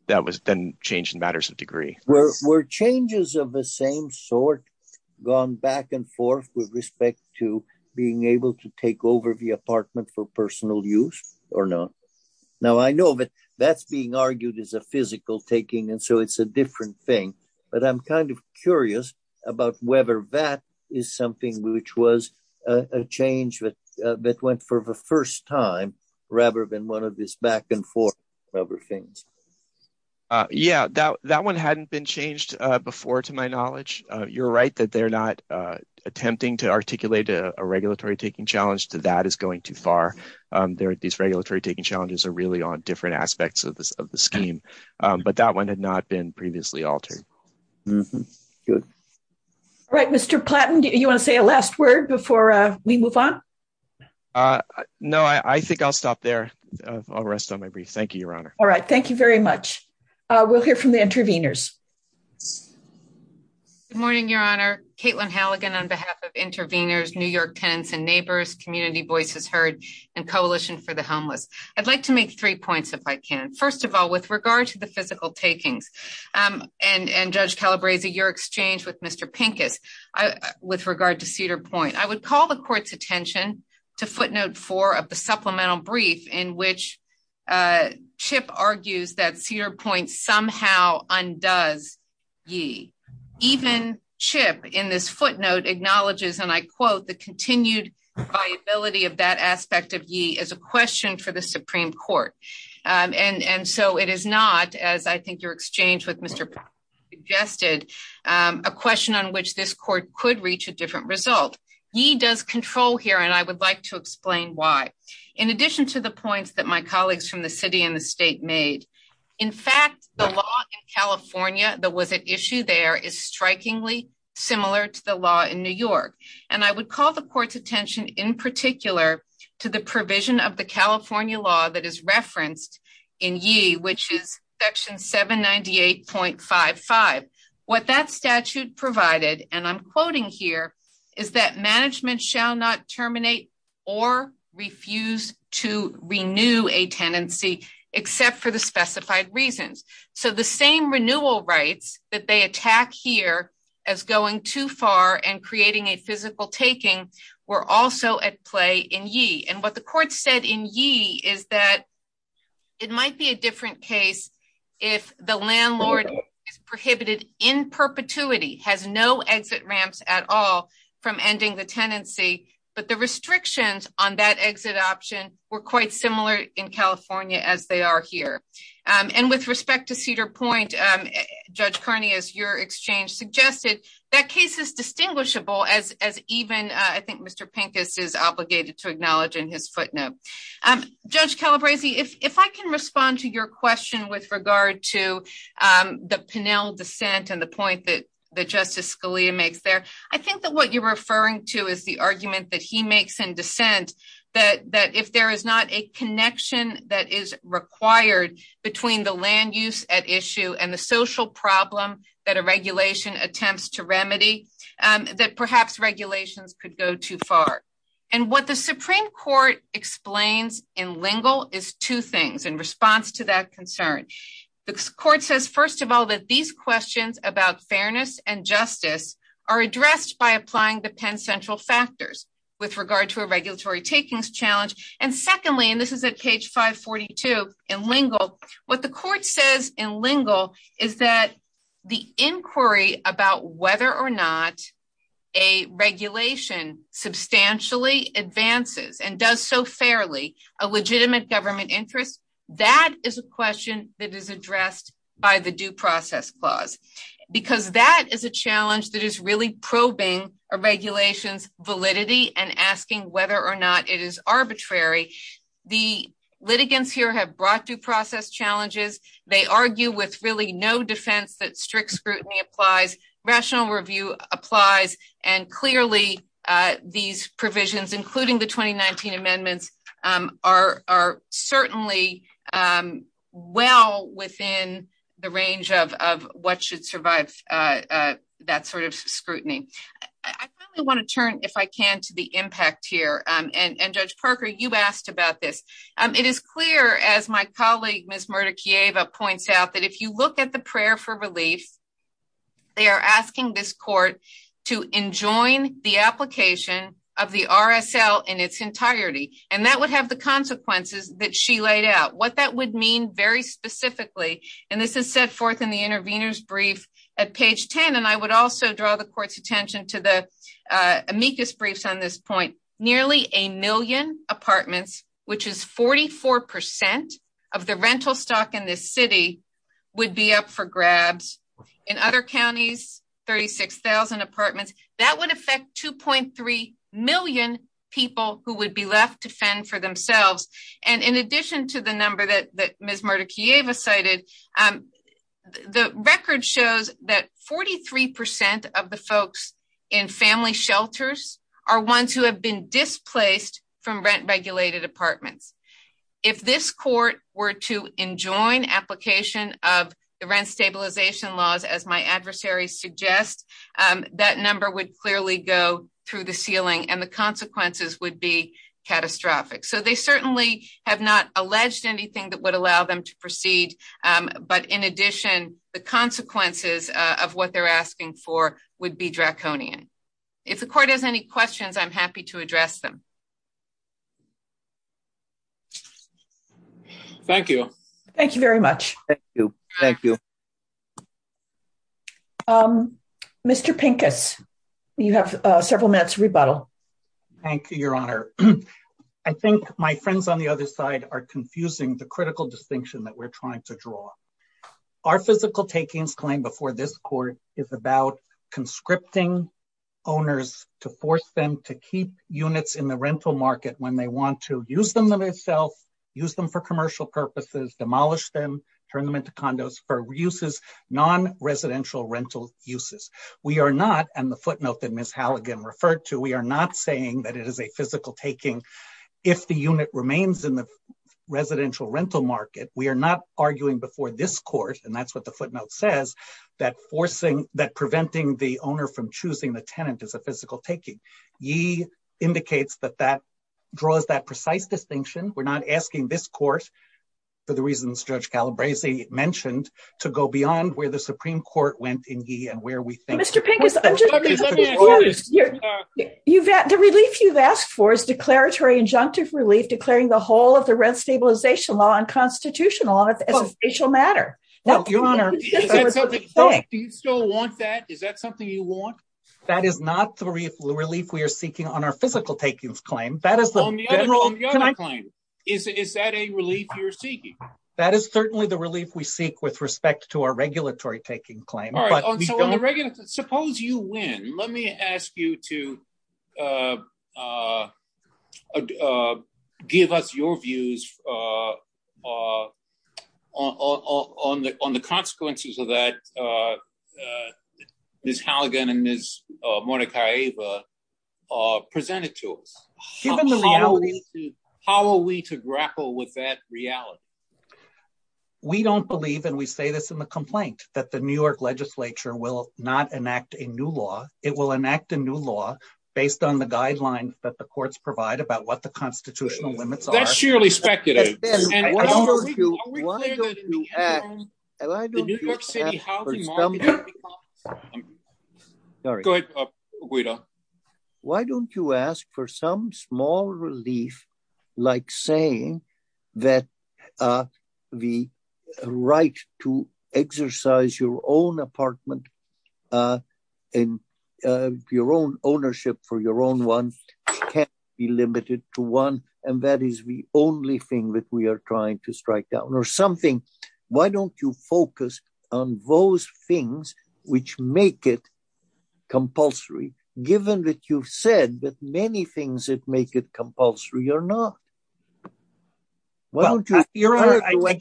that was then changed in matters of degree. Were changes of the same sort gone back and forth with respect to being able to take over the apartment for personal use or not? Now, I know that that's being argued as a physical taking, and so it's a different thing, but I'm kind of curious about whether that is something which was a change that went for the first time rather than one of these back-and-forth type of things. Yeah, that one hadn't been changed before, to my knowledge. You're right that they're not attempting to articulate a regulatory-taking challenge. That is going too far. These regulatory-taking challenges are really on different aspects of the scheme, but that one had not been previously altered. All right, Mr. Platton, do you want to say a last word before we move on? No, I think I'll stop there. I'll rest on my brief. Thank you, Your Honor. All right, thank you very much. We'll hear from the interveners. Good morning, Your Honor. Caitlin Halligan on behalf of Interveners, New York Tenants and Neighbors, Community Voices Heard, and Coalition for the Homeless. I'd like to make three points, if I can. First of all, with regard to the physical takings, and Judge Calabresi, your exchange with Mr. Pinkett with regard to Cedar Point, I would call the Court's attention to footnote four of the supplemental brief in which Chip argues that Cedar Point somehow undoes ye. Even Chip, in this footnote, acknowledges, and I quote, the continued viability of that aspect of ye as a question for the Supreme Court. And so it is not, as I think your exchange with Mr. Platton suggested, a question on which this Court could reach a different result. Ye does control here, and I would like to explain why. In addition to the points that my colleagues from the city and the state made, in fact, the law in California that was at issue there is strikingly similar to the law in New York. And I would call the Court's attention in particular to the provision of the California law that is referenced in ye, which is section 798.55. What that statute provided, and I'm quoting here, is that management shall not terminate or refuse to renew a tenancy except for the specified reasons. So the same renewal rights that they attack here as going too far and creating a physical taking were also at play in ye. And what the Court said in ye is that it might be a different case if the landlord is prohibited in perpetuity, has no exit ramps at all from ending the tenancy, but the restrictions on that exit option were quite similar in California as they are here. And with respect to Cedar Point, Judge Kearney, as your exchange suggested, that case is distinguishable as even, I think, Mr. Pincus is obligated to acknowledge in his footnote. Judge Calabresi, if I can respond to your question with regard to the Pinel dissent and the point that Justice Scalia makes there, I think that what you're referring to is the argument that he makes in dissent that if there is not a connection that is required between the land use at issue and the social problem that a regulation attempts to remedy, that perhaps regulations could go too far. And what the Supreme Court explains in Lingle is two things in response to that concern. The Court says, first of all, that these questions about fairness and justice are addressed by applying the Penn Central factors with regard to a regulatory takings challenge. And secondly, and this is at page 542 in Lingle, what the Court says in Lingle is that the inquiry about whether or not a regulation substantially advances and does so fairly a legitimate government interest, that is a question that is addressed by the due process clause. Because that is a challenge that is really probing a regulation's validity and asking whether or not it is arbitrary. The litigants here have brought due process challenges. They argue with really no defense that strict scrutiny applies. Rational review applies. And clearly, these provisions, including the 2019 amendments, are certainly well within the range of what should survive that sort of scrutiny. I really want to turn, if I can, to the impact here. And Judge Perker, you asked about this. It is clear, as my colleague, Ms. Mordechieva, points out, that if you look at the prayer for relief, they are asking this Court to enjoin the application of the RSL in its entirety. And that would have the consequences that she laid out. What that would mean very specifically, and this is set forth in the intervener's brief at page 10, and I would also draw the Court's attention to the amicus briefs on this point. Nearly a million apartments, which is 44% of the rental stock in this city, would be up for grabs. In other counties, 36,000 apartments, that would affect 2.3 million people who would be left to fend for themselves. And in addition to the number that Ms. Mordechieva cited, the record shows that 43% of the folks in family shelters are ones who have been displaced from rent-regulated apartments. If this Court were to enjoin application of the rent stabilization laws, as my adversary suggests, that number would clearly go through the ceiling, and the consequences would be catastrophic. So they certainly have not alleged anything that would allow them to proceed. But in addition, the consequences of what they're asking for would be draconian. If the Court has any questions, I'm happy to address them. Thank you. Thank you very much. Thank you. Mr. Pincus, you have several minutes to rebuttal. Thank you, Your Honor. I think my friends on the other side are confusing the critical distinction that we're trying to draw. Our physical takings claim before this Court is about conscripting owners to force them to keep units in the rental market when they want to use them themselves, use them for commercial purposes, demolish them, turn them into condos for uses, non-residential rental uses. We are not, and the footnote that Ms. Halligan referred to, we are not saying that it is a physical taking if the unit remains in the residential rental market. We are not arguing before this Court, and that's what the footnote says, that preventing the owner from choosing the tenant is a physical taking. Yee indicates that that draws that precise distinction. We're not asking this Court, for the reasons Judge Calabrese mentioned, to go beyond where the Supreme Court went in yee and where we think the Court should go. Mr. Pincus, the relief you've asked for is declaratory injunctive relief declaring the whole of the rent stabilization law unconstitutional as an official matter. Do you still want that? Is that something you want? That is not the relief we are seeking on our physical takings claim. On the other claim, is that a relief you're seeking? That is certainly the relief we seek with respect to our regulatory taking claim. Suppose you win. Let me ask you to give us your views on the consequences of that Ms. Halligan and Ms. Monica Ava presented to us. How are we to grapple with that reality? We don't believe, and we say this in the complaint, that the New York legislature will not enact a new law. It will enact a new law based on the guidelines that the courts provide about what the constitutional limits are. Why don't you ask for some small relief like saying that the right to exercise your own apartment and your own ownership for your own one can't be limited to one and that is the only thing that we are trying to strike down or something. Why don't you focus on those things which make it compulsory given that you've said that many things that make it compulsory are not? I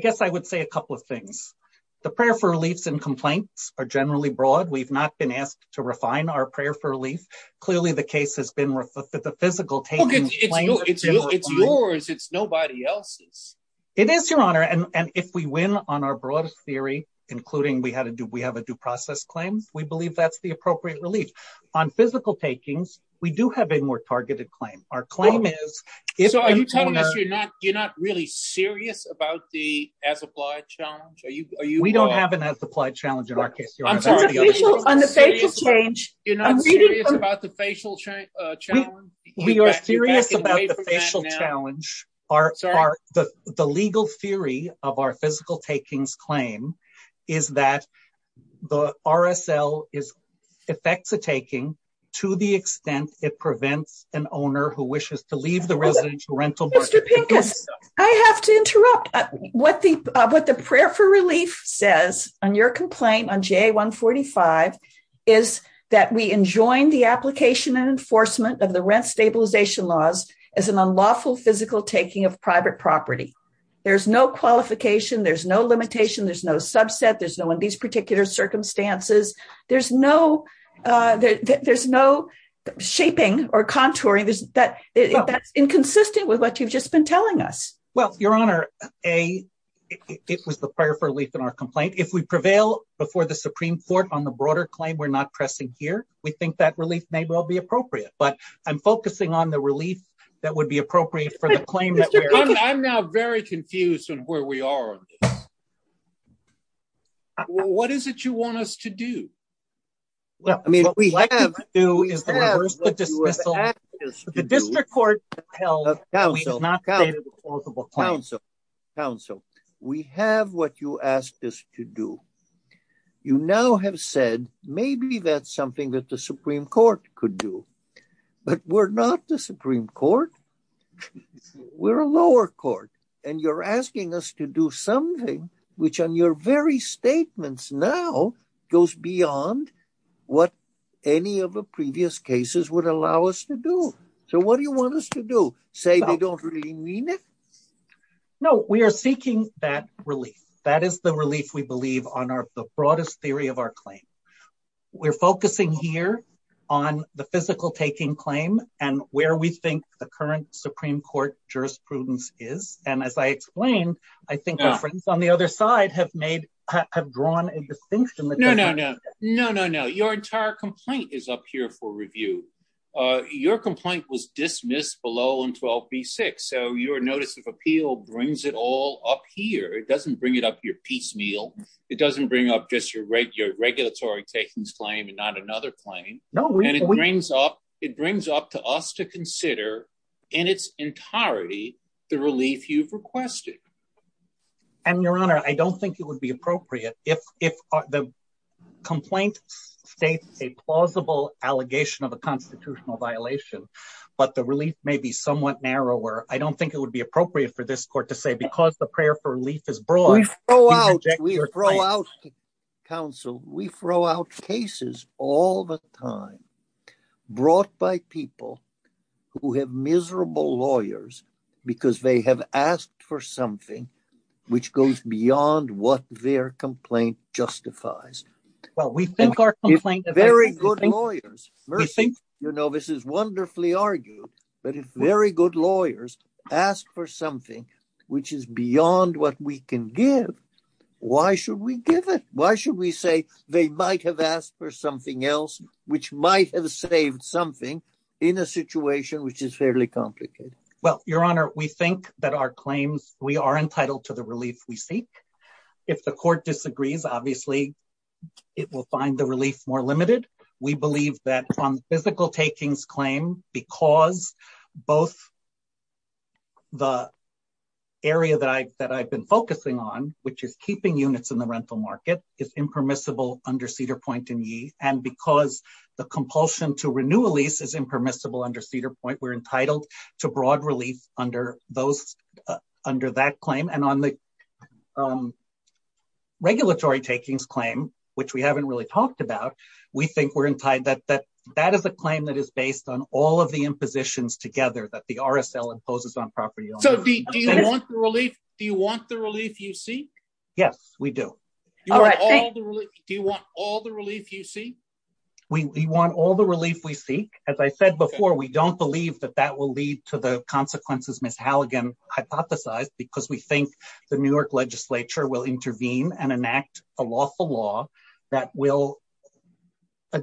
guess I would say a couple of things. The prayer for relief in complaints are generally broad. We've not been asked to refine our prayer for relief. Clearly the case has been referred to the physical pain. It's yours. It's nobody else's. It is, Your Honor, and if we win on our broadest theory, including we have a due process claim, we believe that's the appropriate relief. On physical takings, we do have a more targeted claim. Are you telling us you're not really serious about the as-applied challenge? We don't have an as-applied challenge in our case, Your Honor. On the facial change. You're not serious about the facial challenge? We are serious about the facial challenge. The legal theory of our physical takings claim is that the RSL affects the taking to the extent it prevents an owner who wishes to leave the residence or rental. I have to interrupt. What the prayer for relief says on your complaint on JA 145 is that we enjoin the application and enforcement of the rent stabilization laws as an unlawful physical taking of private property. There's no qualification. There's no limitation. There's no subset. There's no in these particular circumstances. There's no shaping or contouring that's inconsistent with what you've just been telling us. Well, Your Honor, this was the prayer for relief in our complaint. If we prevail before the Supreme Court on the broader claim, we're not pressing here. We think that relief may well be appropriate. But I'm focusing on the relief that would be appropriate for the claim. I'm now very confused on where we are on this. Well, what is it you want us to do? Well, I mean, what we have to do is ask the district court to tell us. Council, we have what you asked us to do. You now have said maybe that's something that the Supreme Court could do. But we're not the Supreme Court. We're a lower court. And you're asking us to do something which on your very statements now goes beyond what any of the previous cases would allow us to do. So what do you want us to do? Say we don't really mean it? No, we are seeking that relief. That is the relief we believe on the broadest theory of our claim. We're focusing here on the physical taking claim and where we think the current Supreme Court jurisprudence is. And as I explained, I think on the other side have made have drawn a distinction. No, no, no, no, no, no. Your entire complaint is up here for review. Your complaint was dismissed below in 12 B6. So your notice of appeal brings it all up here. It doesn't bring it up your piecemeal. It doesn't bring up just your regulatory taking claim and not another claim. No, it brings up it brings up to us to consider in its entirety the relief you've requested. And Your Honor, I don't think it would be appropriate if the complaint states a plausible allegation of a constitutional violation. But the relief may be somewhat narrower. I don't think it would be appropriate for this court to say because the prayer for relief is broad. We throw out counsel. We throw out cases all the time brought by people who have miserable lawyers because they have asked for something which goes beyond what their complaint justifies. Well, we think our complaint is very good lawyers. Mercy, you know, this is wonderfully argued, but it's very good lawyers ask for something which is beyond what we can give. Why should we give it? Why should we say they might have asked for something else which might have saved something in a situation which is fairly complicated? Well, Your Honor, we think that our claims we are entitled to the relief. If the court disagrees, obviously, it will find the relief more limited. We believe that physical takings claim because both the area that I said I've been focusing on, which is keeping units in the rental market, is impermissible under Cedar Point. And because the compulsion to renew a lease is impermissible under Cedar Point, we're entitled to broad relief under that claim. And on the regulatory takings claim, which we haven't really talked about, we think that that is a claim that is based on all of the impositions together that the RSL imposes on property owners. So do you want the relief you seek? Yes, we do. Do you want all the relief you seek? We want all the relief we seek. As I said before, we don't believe that that will lead to the consequences Ms. Halligan hypothesized because we think the New York legislature will intervene and enact a lawful law that will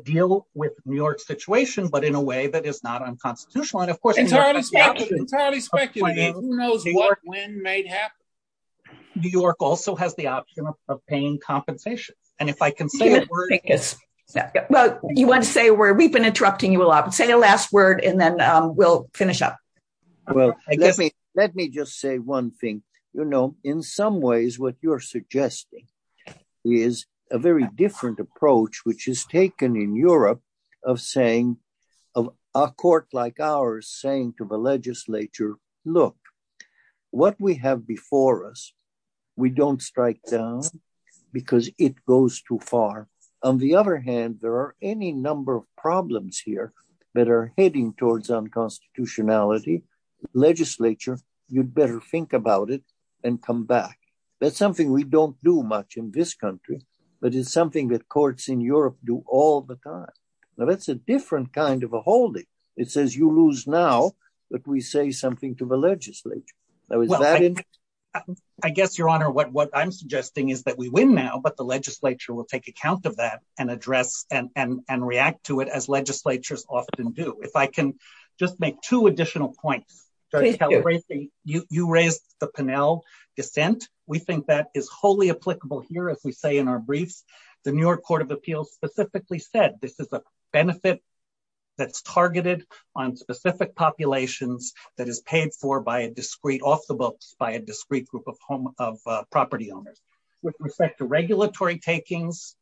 deal with New York's situation, but in a way that is not unconstitutional. Entirely speculative. Who knows what, when, may happen? New York also has the option of paying compensation. Well, you want to say a word? We've been interrupting you a lot. Say the last word and then we'll finish up. Let me just say one thing. You know, in some ways, what you're suggesting is a very different approach, which is taken in Europe of saying, a court like ours saying to the legislature, look, what we have before us, we don't strike down because it goes too far. On the other hand, there are any number of problems here that are heading towards unconstitutionality. Legislature, you'd better think about it and come back. That's something we don't do much in this country, but it's something that courts in Europe do all the time. Now, that's a different kind of a holding. It says you lose now that we say something to the legislature. I guess, Your Honor, what I'm suggesting is that we win now, but the legislature will take account of that and address and react to it as legislatures often do. If I can just make two additional points. You raised the Pennell dissent. We think that is wholly applicable here, as we say in our briefs. The New York Court of Appeals specifically said this is a benefit that's targeted on specific populations that is paid for by a discrete, off the books, by a discrete group of property owners. With respect to regulatory takings,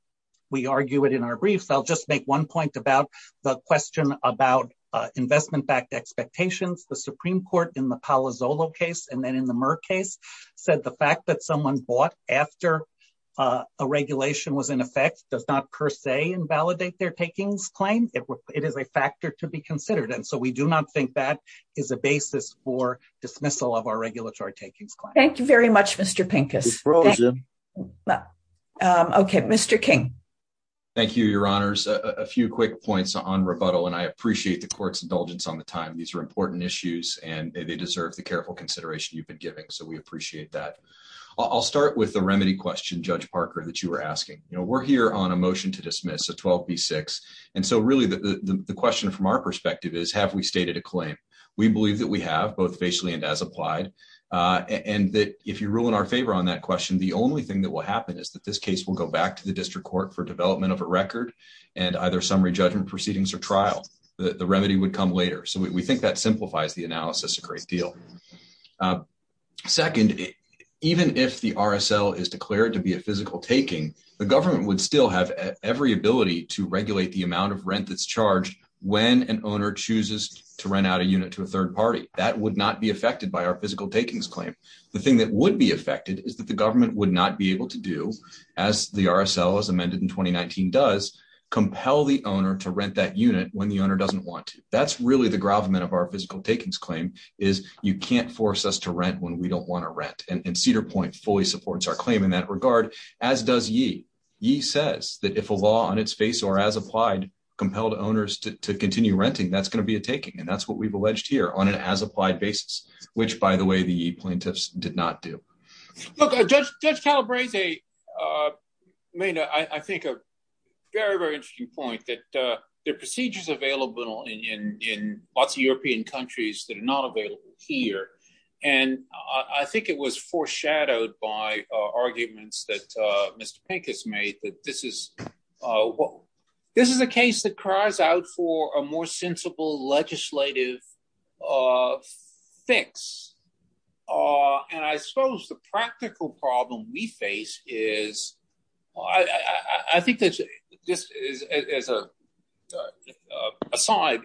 we argue it in our briefs. I'll just make one point about the question about investment backed expectations. The Supreme Court in the Palazzolo case and then in the Murr case said the fact that someone bought after a regulation was in effect does not per se invalidate their takings claim. It is a factor to be considered. And so we do not think that is a basis for dismissal of our regulatory takings claim. Thank you very much, Mr. Pincus. Okay, Mr. King. Thank you, Your Honors. A few quick points on rebuttal, and I appreciate the court's indulgence on the time. These are important issues, and they deserve the careful consideration you've been giving, so we appreciate that. I'll start with the remedy question, Judge Parker, that you were asking. You know, we're here on a motion to dismiss a 12B6. And so, really, the question from our perspective is, have we stated a claim? We believe that we have, both basically and as applied. And if you rule in our favor on that question, the only thing that will happen is that this case will go back to the district court for development of a record and either summary judgment proceedings or trial. The remedy would come later. So we think that simplifies the analysis a great deal. Second, even if the RSL is declared to be a physical taking, the government would still have every ability to regulate the amount of rent that's charged when an owner chooses to rent out a unit to a third party. That would not be affected by our physical takings claim. The thing that would be affected is that the government would not be able to do, as the RSL as amended in 2019 does, compel the owner to rent that unit when the owner doesn't want to. That's really the gravamen of our physical takings claim is you can't force us to rent when we don't want to rent. And Cedar Point fully supports our claim in that regard, as does ye. Ye says that if a law on its face or as applied compelled owners to continue renting, that's going to be a taking. And that's what we've alleged here on an as applied basis, which, by the way, the plaintiffs did not do. Look, Judge Calabrese made, I think, a very, very interesting point that there are procedures available in lots of European countries that are not available here. And I think it was foreshadowed by arguments that Mr. Pink has made that this is a case that cries out for a more sensible legislative fix. And I suppose the practical problem we face is, I think, just as an aside,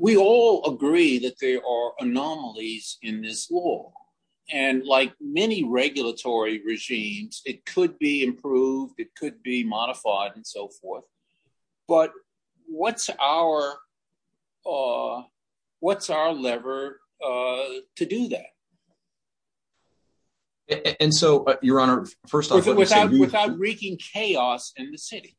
we all agree that there are anomalies in this law. And like many regulatory regimes, it could be improved. It could be modified and so forth. But what's our lever to do that? And so, Your Honor, first off- Without wreaking chaos in the city.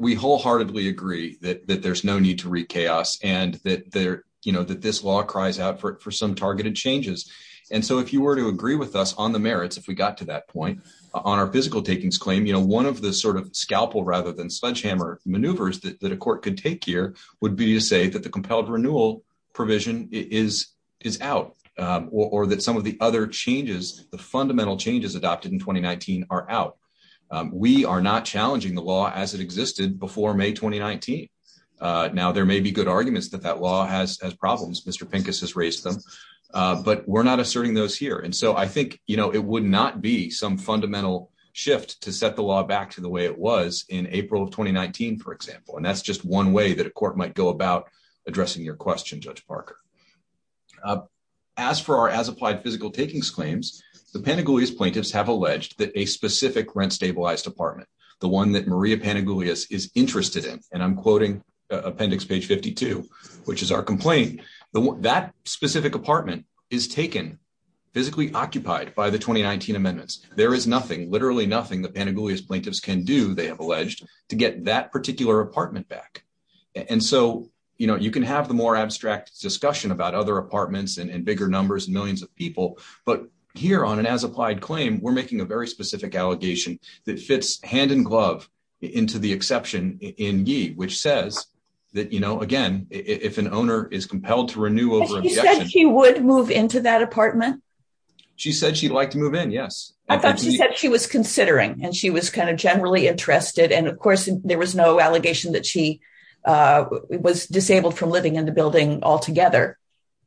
We wholeheartedly agree that there's no need to wreak chaos and that this law cries out for some targeted changes. And so if you were to agree with us on the merits, if we got to that point, on our physical takings claim, you know, one of the sort of scalpel rather than sledgehammer maneuvers that a court can take here would be to say that the compelled renewal provision is out. Or that some of the other changes, the fundamental changes adopted in 2019 are out. We are not challenging the law as it existed before May 2019. Now, there may be good arguments that that law has problems. Mr. Pincus has raised them. But we're not asserting those here. And so I think, you know, it would not be some fundamental shift to set the law back to the way it was in April of 2019, for example. And that's just one way that a court might go about addressing your question, Judge Parker. As for our as-applied physical takings claims, the Pantagoulias plaintiffs have alleged that a specific rent-stabilized apartment, the one that Maria Pantagoulias is interested in, and I'm quoting appendix page 52, which is our complaint. That specific apartment is taken, physically occupied by the 2019 amendments. There is nothing, literally nothing, the Pantagoulias plaintiffs can do, they have alleged, to get that particular apartment back. And so, you know, you can have the more abstract discussion about other apartments and bigger numbers, millions of people. But here on an as-applied claim, we're making a very specific allegation that fits hand-in-glove into the exception in Yee, which says that, you know, again, if an owner is compelled to renew over a year. You said she would move into that apartment? She said she'd like to move in, yes. She said she was considering, and she was kind of generally interested, and of course there was no allegation that she was disabled from living in the building altogether,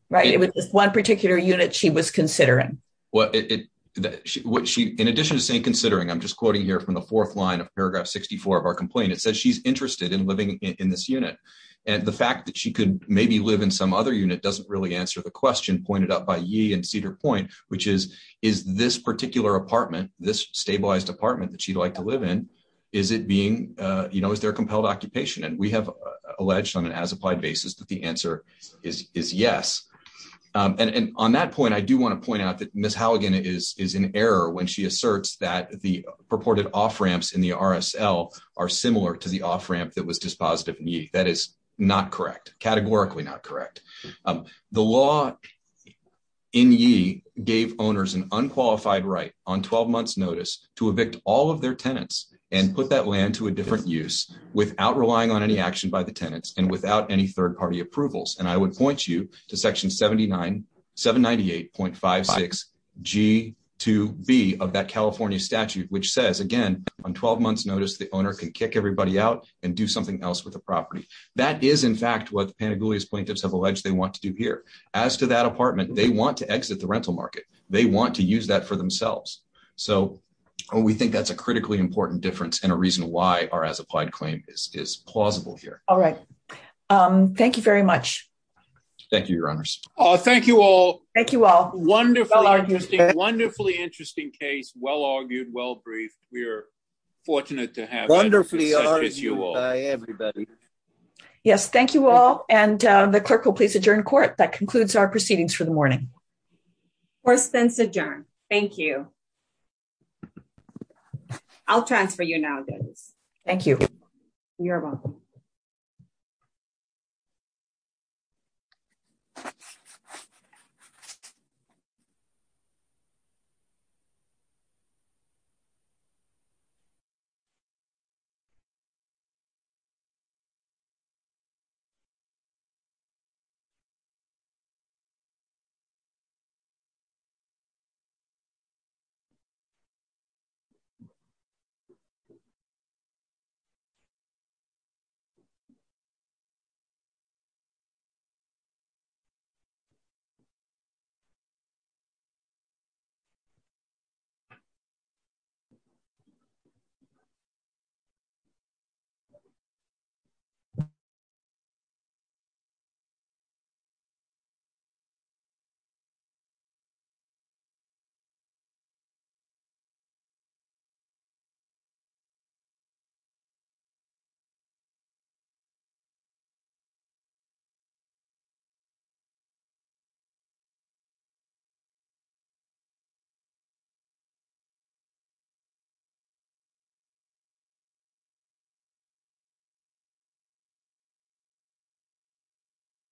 right? It was just one particular unit she was considering. Well, in addition to saying considering, I'm just quoting here from the fourth line of paragraph 64 of our complaint. It says she's interested in living in this unit. And the fact that she could maybe live in some other unit doesn't really answer the question pointed out by Yee and Cedar Point, which is, is this particular apartment, this stabilized apartment that she'd like to live in, is it being, you know, is there a compelled occupation? And we have alleged on an as-applied basis that the answer is yes. And on that point, I do want to point out that Ms. Halligan is in error when she asserts that the purported off-ramps in the RSL are similar to the off-ramp that was dispositive in Yee. That is not correct, categorically not correct. The law in Yee gave owners an unqualified right on 12 months' notice to evict all of their tenants and put that land to a different use without relying on any action by the tenants and without any third-party approvals. And I would point you to section 798.556G2B of that California statute, which says, again, on 12 months' notice, the owner can kick everybody out and do something else with the property. That is, in fact, what the Pantagoulia plaintiffs have alleged they want to do here. As to that apartment, they want to exit the rental market. They want to use that for themselves. So we think that's a critically important difference and a reason why our as-applied claim is plausible here. All right. Thank you very much. Thank you, Your Honors. Thank you all. Thank you all. Wonderfully interesting case, well-argued, well-briefed. We are fortunate to have you all. Yes, thank you all. And the clerk will please adjourn court. That concludes our proceedings for the morning. Court is then adjourned. Thank you. I'll transfer you now, David. Thank you. You're welcome. Thank you. Thank you. Thank you. Thank you.